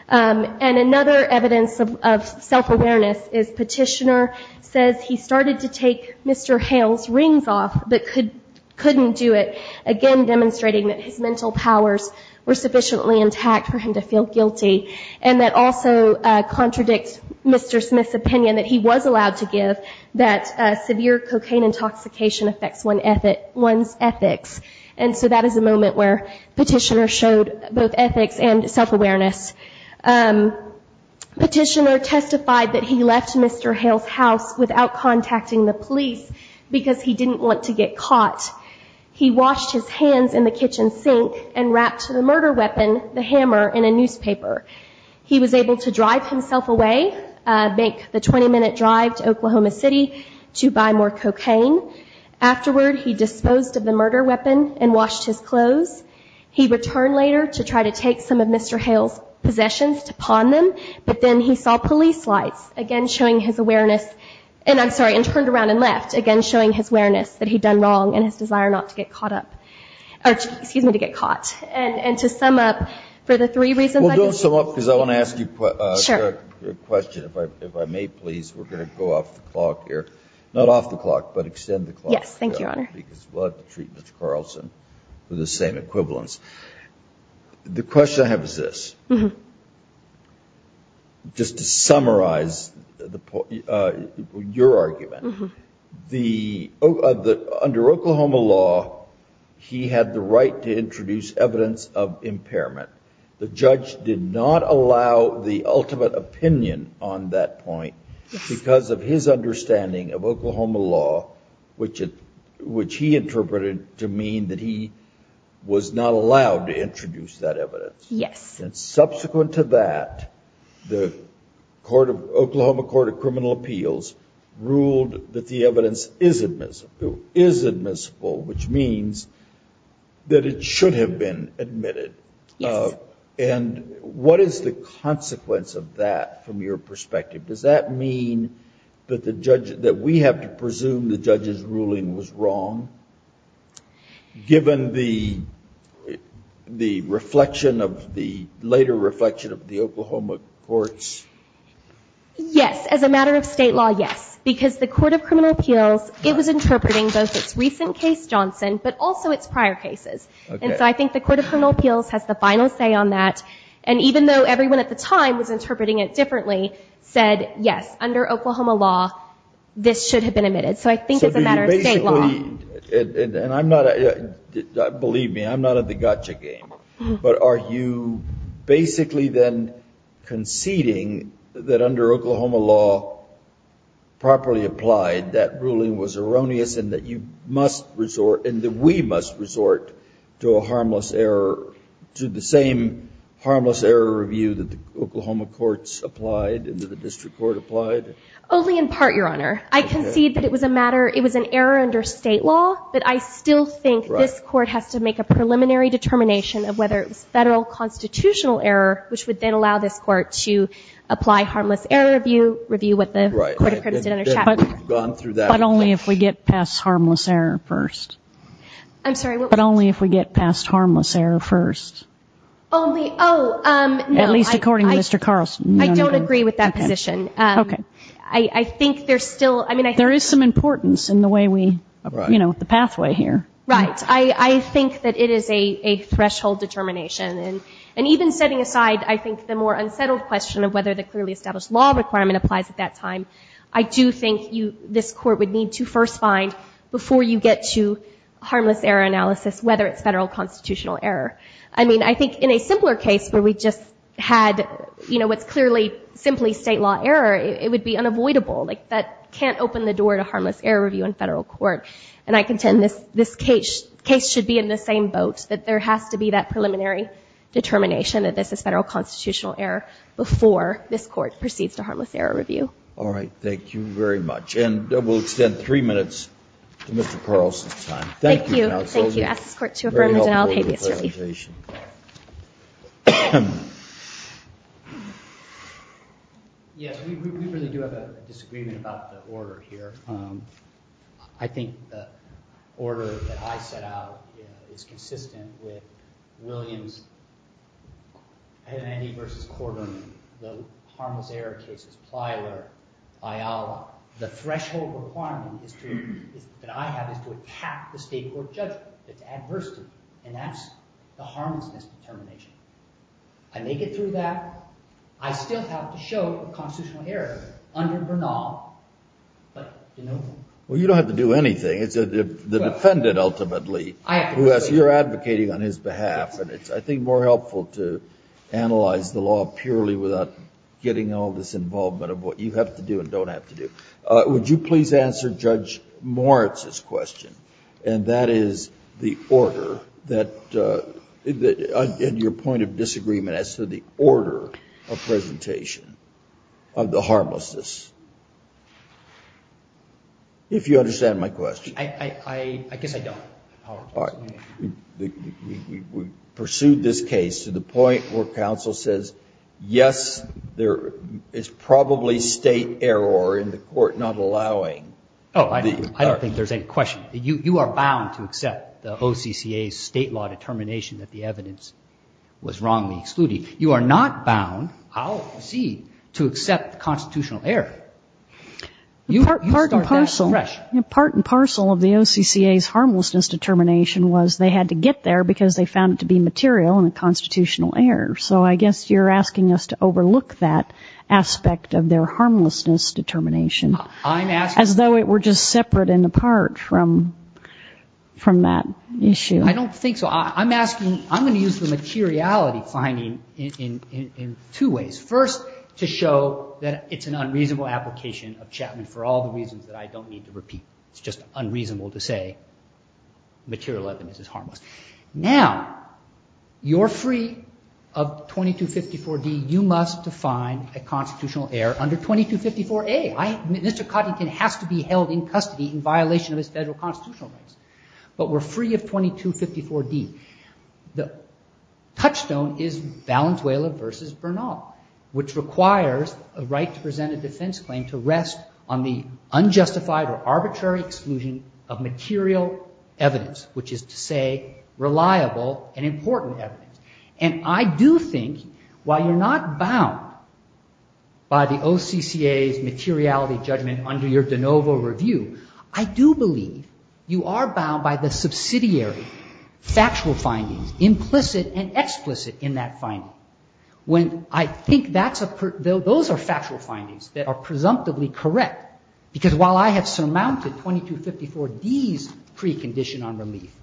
Um, and another evidence of, of self-awareness is petitioner says he started to take Mr. Hale's rings off, but could, couldn't do it again, demonstrating that his mental powers were sufficiently intact for him to feel guilty. And that also, uh, contradicts Mr. Smith's opinion that he was allowed to give that, uh, severe cocaine intoxication affects one ethic, one's ethics. And so that is a moment where petitioner showed both ethics and self-awareness. Um, petitioner testified that he left Mr. Hale's house without contacting the police because he didn't want to get caught. He washed his hands in the kitchen sink and wrapped the murder weapon, the hammer in a newspaper. He was able to drive himself away, uh, make the 20 minute drive to Oklahoma city to buy more cocaine. Afterward, he disposed of the murder weapon and washed his clothes. He returned later to try to take some of Mr. Hale's possessions to pawn them. But then he saw police lights again, showing his awareness and I'm sorry, and turned around and left again, showing his awareness that he'd done wrong and his desire not to get caught up or excuse me, to get caught. And, and to sum up for the three reasons, because I want to ask you a question, if I, if I may, please, we're going to go off the clock here, not off the clock, but extend the clock because we'll have to treat Mr. Carlson with the same equivalence. The question I have is this, just to summarize the, uh, your argument, the, uh, the, under Oklahoma law, he had the right to introduce evidence of impairment. The judge did not allow the ultimate opinion on that point because of his understanding of Oklahoma law, which, which he interpreted to mean that he was not allowed to introduce that evidence. And subsequent to that, the court of Oklahoma court of criminal appeals ruled that the evidence is admissible, is admissible, which means that it should have been admitted, uh, and what is the consequence of that from your perspective? Does that mean that the judge, that we have to presume the judge's ruling was wrong given the, the reflection of the later reflection of the Oklahoma courts? Yes. As a matter of state law. Yes, because the court of criminal appeals, it was interpreting both its recent case Johnson, but also its prior cases. And so I think the court of criminal appeals has the final say on that. And even though everyone at the time was interpreting it differently said, yes, under Oklahoma law, this should have been admitted. So I think it's a matter of state law. And I'm not, believe me, I'm not at the gotcha game, but are you basically then conceding that under Oklahoma law properly applied that ruling was erroneous and that you must resort in the, we must resort to a harmless error to the same harmless error review that the Oklahoma courts applied into the district court applied? Only in part, your honor, I concede that it was a matter, it was an error under state law, but I still think this court has to make a preliminary determination of whether it was federal constitutional error, which would then allow this court to apply harmless error review, review what the court of criminals did under Chapman. But only if we get past harmless error first, but only if we get past harmless error first, at least according to Mr. Carlson, I don't agree with that position. Okay. I think there's still, I mean, there is some importance in the way we, you know, the pathway here. Right. I, I think that it is a threshold determination and, and even setting aside, I think the more unsettled question of whether the clearly established law requirement applies at that time, I do think you, this court would need to first find before you get to harmless error analysis, whether it's federal constitutional error. I mean, I think in a simpler case where we just had, you know, it's clearly simply state law error, it would be unavoidable. Like that can't open the door to harmless error review in federal court. And I contend this, this case, case should be in the same boat, that there has to be that preliminary determination that this is federal constitutional error before this court proceeds to harmless error review. All right. Thank you very much. And we'll extend three minutes to Mr. Carlson's time. Thank you. Thank you. I'll ask this court to affirm the denial of habeas relief. Yes, we really do have a disagreement about the order here. Um, I think the order that I set out is consistent with Williams and Andy versus Corderman, the harmless error cases, Plyler, Ayala, the threshold requirement is to, that I have is to attack the state court judgment, it's adversity. And that's the harmlessness determination. I make it through that. I still have to show constitutional error under Bernal, but you know. Well, you don't have to do anything. It's the defendant ultimately who has, you're advocating on his behalf. And it's, I think more helpful to analyze the law purely without getting all this involvement of what you have to do and don't have to do. Uh, would you please answer Judge Moritz's question? And that is the order that, uh, that, uh, in your point of disagreement as to the order of presentation of the harmlessness, if you understand my question. I, I, I, I guess I don't. We pursued this case to the point where counsel says, yes, there is probably state error in the court, not allowing. Oh, I don't think there's any question that you, you are bound to accept the OCCA state law determination that the evidence was wrongly excluded. You are not bound. I'll proceed to accept the constitutional error. You are part and parcel of the OCCA's harmlessness determination was they had to get there because they found it to be material and a constitutional error. So I guess you're asking us to overlook that aspect of their harmlessness determination as though it were just separate and apart from, from that issue. I don't think so. I'm asking, I'm going to use the materiality finding in, in, in two ways. First to show that it's an unreasonable application of Chapman for all the reasons that I don't need to repeat. It's just unreasonable to say material evidence is harmless. Now you're free of 2254 D. You must define a constitutional error under 2254 A. I, Mr. Coddington has to be held in custody in violation of his federal constitutional rights, but we're free of 2254 D. The touchstone is Valenzuela versus Bernal, which requires a right to present a defense claim to rest on the unjustified or arbitrary exclusion of material evidence, which is to say reliable and important evidence. And I do think while you're not bound by the OCCA's materiality judgment under your de novo review, I do believe you are bound by the subsidiary factual findings, implicit and explicit in that finding. When I think that's a, those are factual findings that are presumptively correct because while I have surmounted 2254 D's precondition on relief,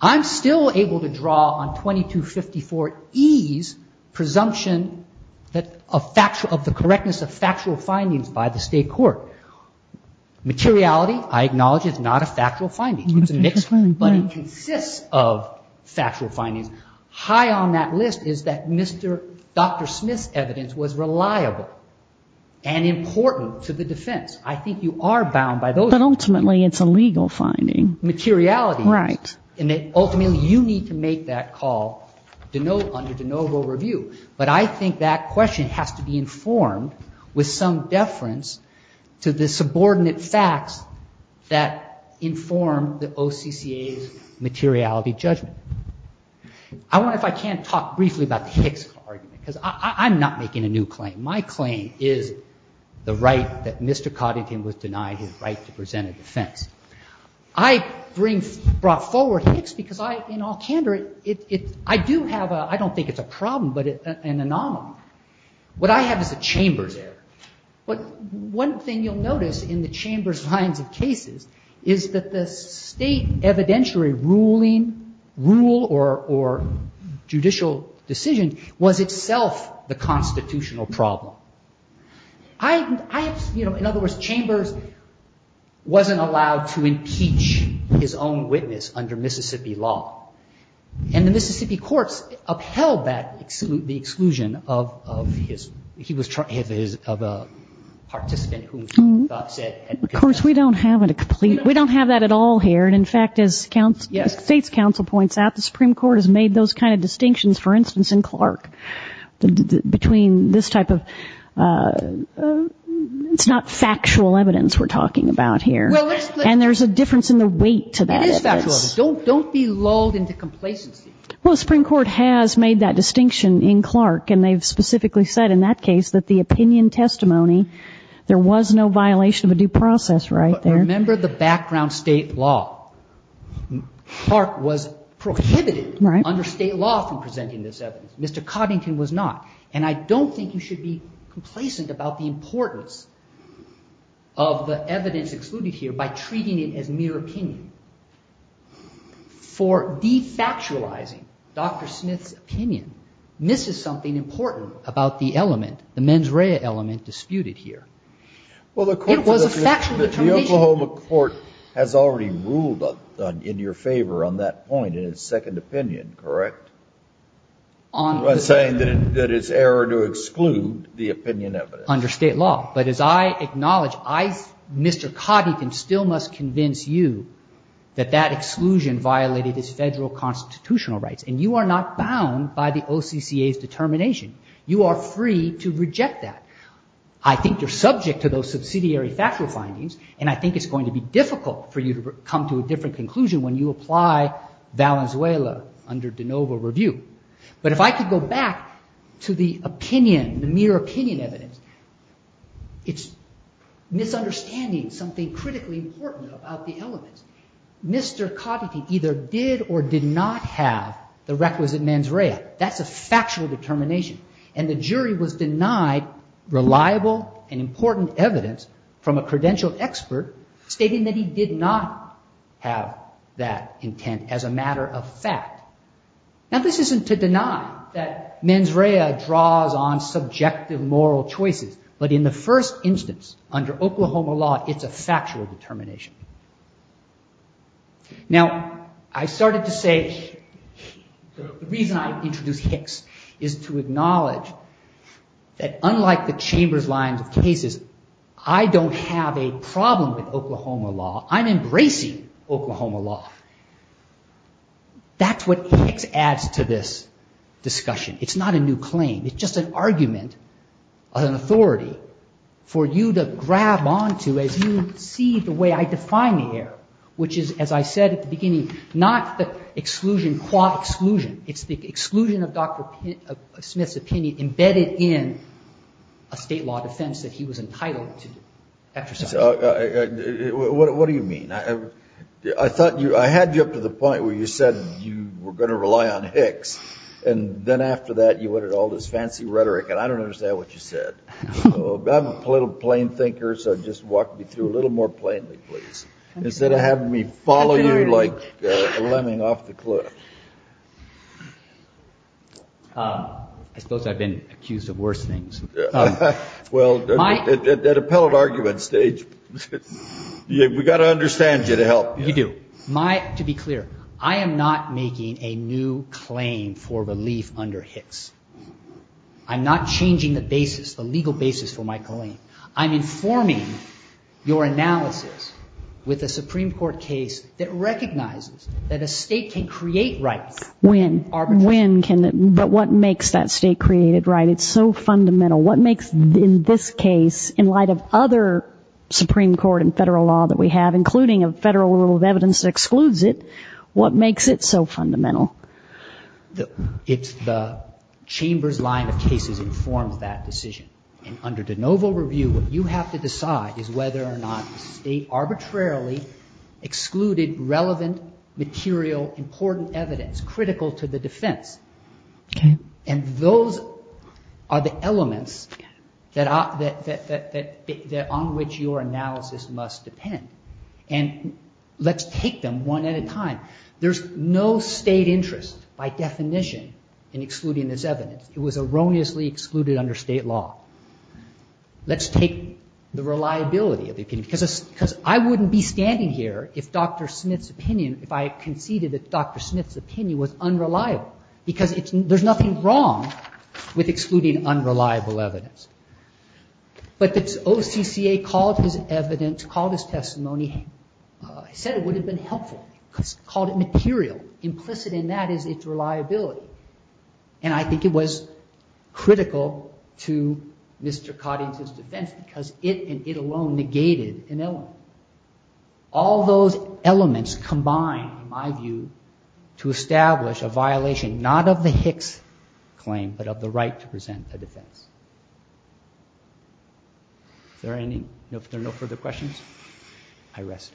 I'm still able to draw on 2254 E's presumption that a factual, of the correctness of factual findings by the state court materiality, I acknowledge it's not a factual finding, but it consists of factual findings high on that list is that Mr. Dr. Smith's evidence was reliable and important to the defense. I think you are bound by those. But ultimately it's a legal finding. Materiality. Right. And ultimately you need to make that call to know under de novo review. But I think that question has to be informed with some deference to the subordinate facts that inform the OCCA's materiality judgment. I wonder if I can talk briefly about the Hicks argument because I'm not making a new claim. My claim is the right that Mr. Coddington was denied his right to present a defense. I bring, brought forward Hicks because I, in all candor, it, it, I do have a, I an anomaly. What I have is a Chambers error. But one thing you'll notice in the Chambers lines of cases is that the state evidentiary ruling rule or, or judicial decision was itself the constitutional problem. I, I, you know, in other words, Chambers wasn't allowed to impeach his own witness under Mississippi law. And the Mississippi courts upheld that, the exclusion of, of his, he was trying, his, his, of a participant whom he thought said. Of course, we don't have a complete, we don't have that at all here. And in fact, as counsel, as state's counsel points out, the Supreme Court has made those kinds of distinctions, for instance, in Clark between this type of, it's not factual evidence we're talking about here. And there's a difference in the weight to that. Don't, don't be lulled into complacency. Well, the Supreme Court has made that distinction in Clark. And they've specifically said in that case that the opinion testimony, there was no violation of a due process right there. Remember the background state law. Clark was prohibited under state law from presenting this evidence. Mr. Coddington was not. And I don't think you should be complacent about the importance of the evidence excluded here by treating it as mere opinion. For de-factualizing Dr. Smith's opinion, this is something important about the element, the mens rea element disputed here. Well, the court was a factual determination. The Oklahoma court has already ruled in your favor on that point in its second opinion, correct? On saying that it's error to exclude the opinion of it under state law. But as I acknowledge, I, Mr. Convince you that that exclusion violated his federal constitutional rights. And you are not bound by the OCCA's determination. You are free to reject that. I think you're subject to those subsidiary factual findings. And I think it's going to be difficult for you to come to a different conclusion when you apply Valenzuela under de novo review. But if I could go back to the opinion, the mere opinion evidence, it's understanding something critically important about the element. Mr. Coddity either did or did not have the requisite mens rea. That's a factual determination. And the jury was denied reliable and important evidence from a credential expert stating that he did not have that intent as a matter of fact. Now this isn't to deny that mens rea draws on subjective moral choices, but in the first instance under Oklahoma law, it's a factual determination. Now I started to say, the reason I introduced Hicks is to acknowledge that unlike the chamber's lines of cases, I don't have a problem with Oklahoma law. I'm embracing Oklahoma law. That's what Hicks adds to this discussion. It's not a new claim. It's just an argument, an authority for you to grab onto as you see the way I define the error, which is, as I said at the beginning, not the exclusion, quad exclusion, it's the exclusion of Dr. Smith's opinion embedded in a state law defense that he was entitled to exercise. What do you mean? I thought you, I had you up to the point where you said you were going to rely on fancy rhetoric, and I don't understand what you said. I'm a little plain thinker, so just walk me through a little more plainly, please. Instead of having me follow you like a lemming off the cliff. I suppose I've been accused of worse things. Well, at appellate argument stage, we've got to understand you to help. You do. To be clear, I am not making a new claim for relief under Hicks. I'm not changing the basis, the legal basis for my claim. I'm informing your analysis with a Supreme Court case that recognizes that a state can create rights. When, when can, but what makes that state created right? It's so fundamental. What makes, in this case, in light of other Supreme Court and federal law that we have, including a federal rule of evidence that excludes it, what makes it so fundamental? The, it's the chamber's line of cases informs that decision. And under de novo review, what you have to decide is whether or not the state arbitrarily excluded relevant material, important evidence critical to the defense. And those are the elements that are, that, that, that, that, that, that on which your analysis must depend. And let's take them one at a time. There's no state interest by definition in excluding this evidence. It was erroneously excluded under state law. Let's take the reliability of the opinion because, because I wouldn't be standing here if Dr. Smith's opinion, if I conceded that Dr. Smith's opinion was unreliable, because it's, there's nothing wrong with excluding unreliable evidence. But the OCCA called his evidence, called his testimony, said it would have been helpful, called it material. Implicit in that is its reliability. And I think it was critical to Mr. Cotting's defense because it and it alone negated an element. All those elements combined, in my view, to establish a violation, not of the Hicks claim, but of the right to present a defense. Is there any, if there are no further questions, I rest.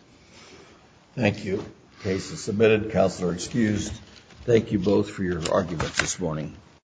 Thank you. Case is submitted. Counselor excused. Thank you both for your argument this morning.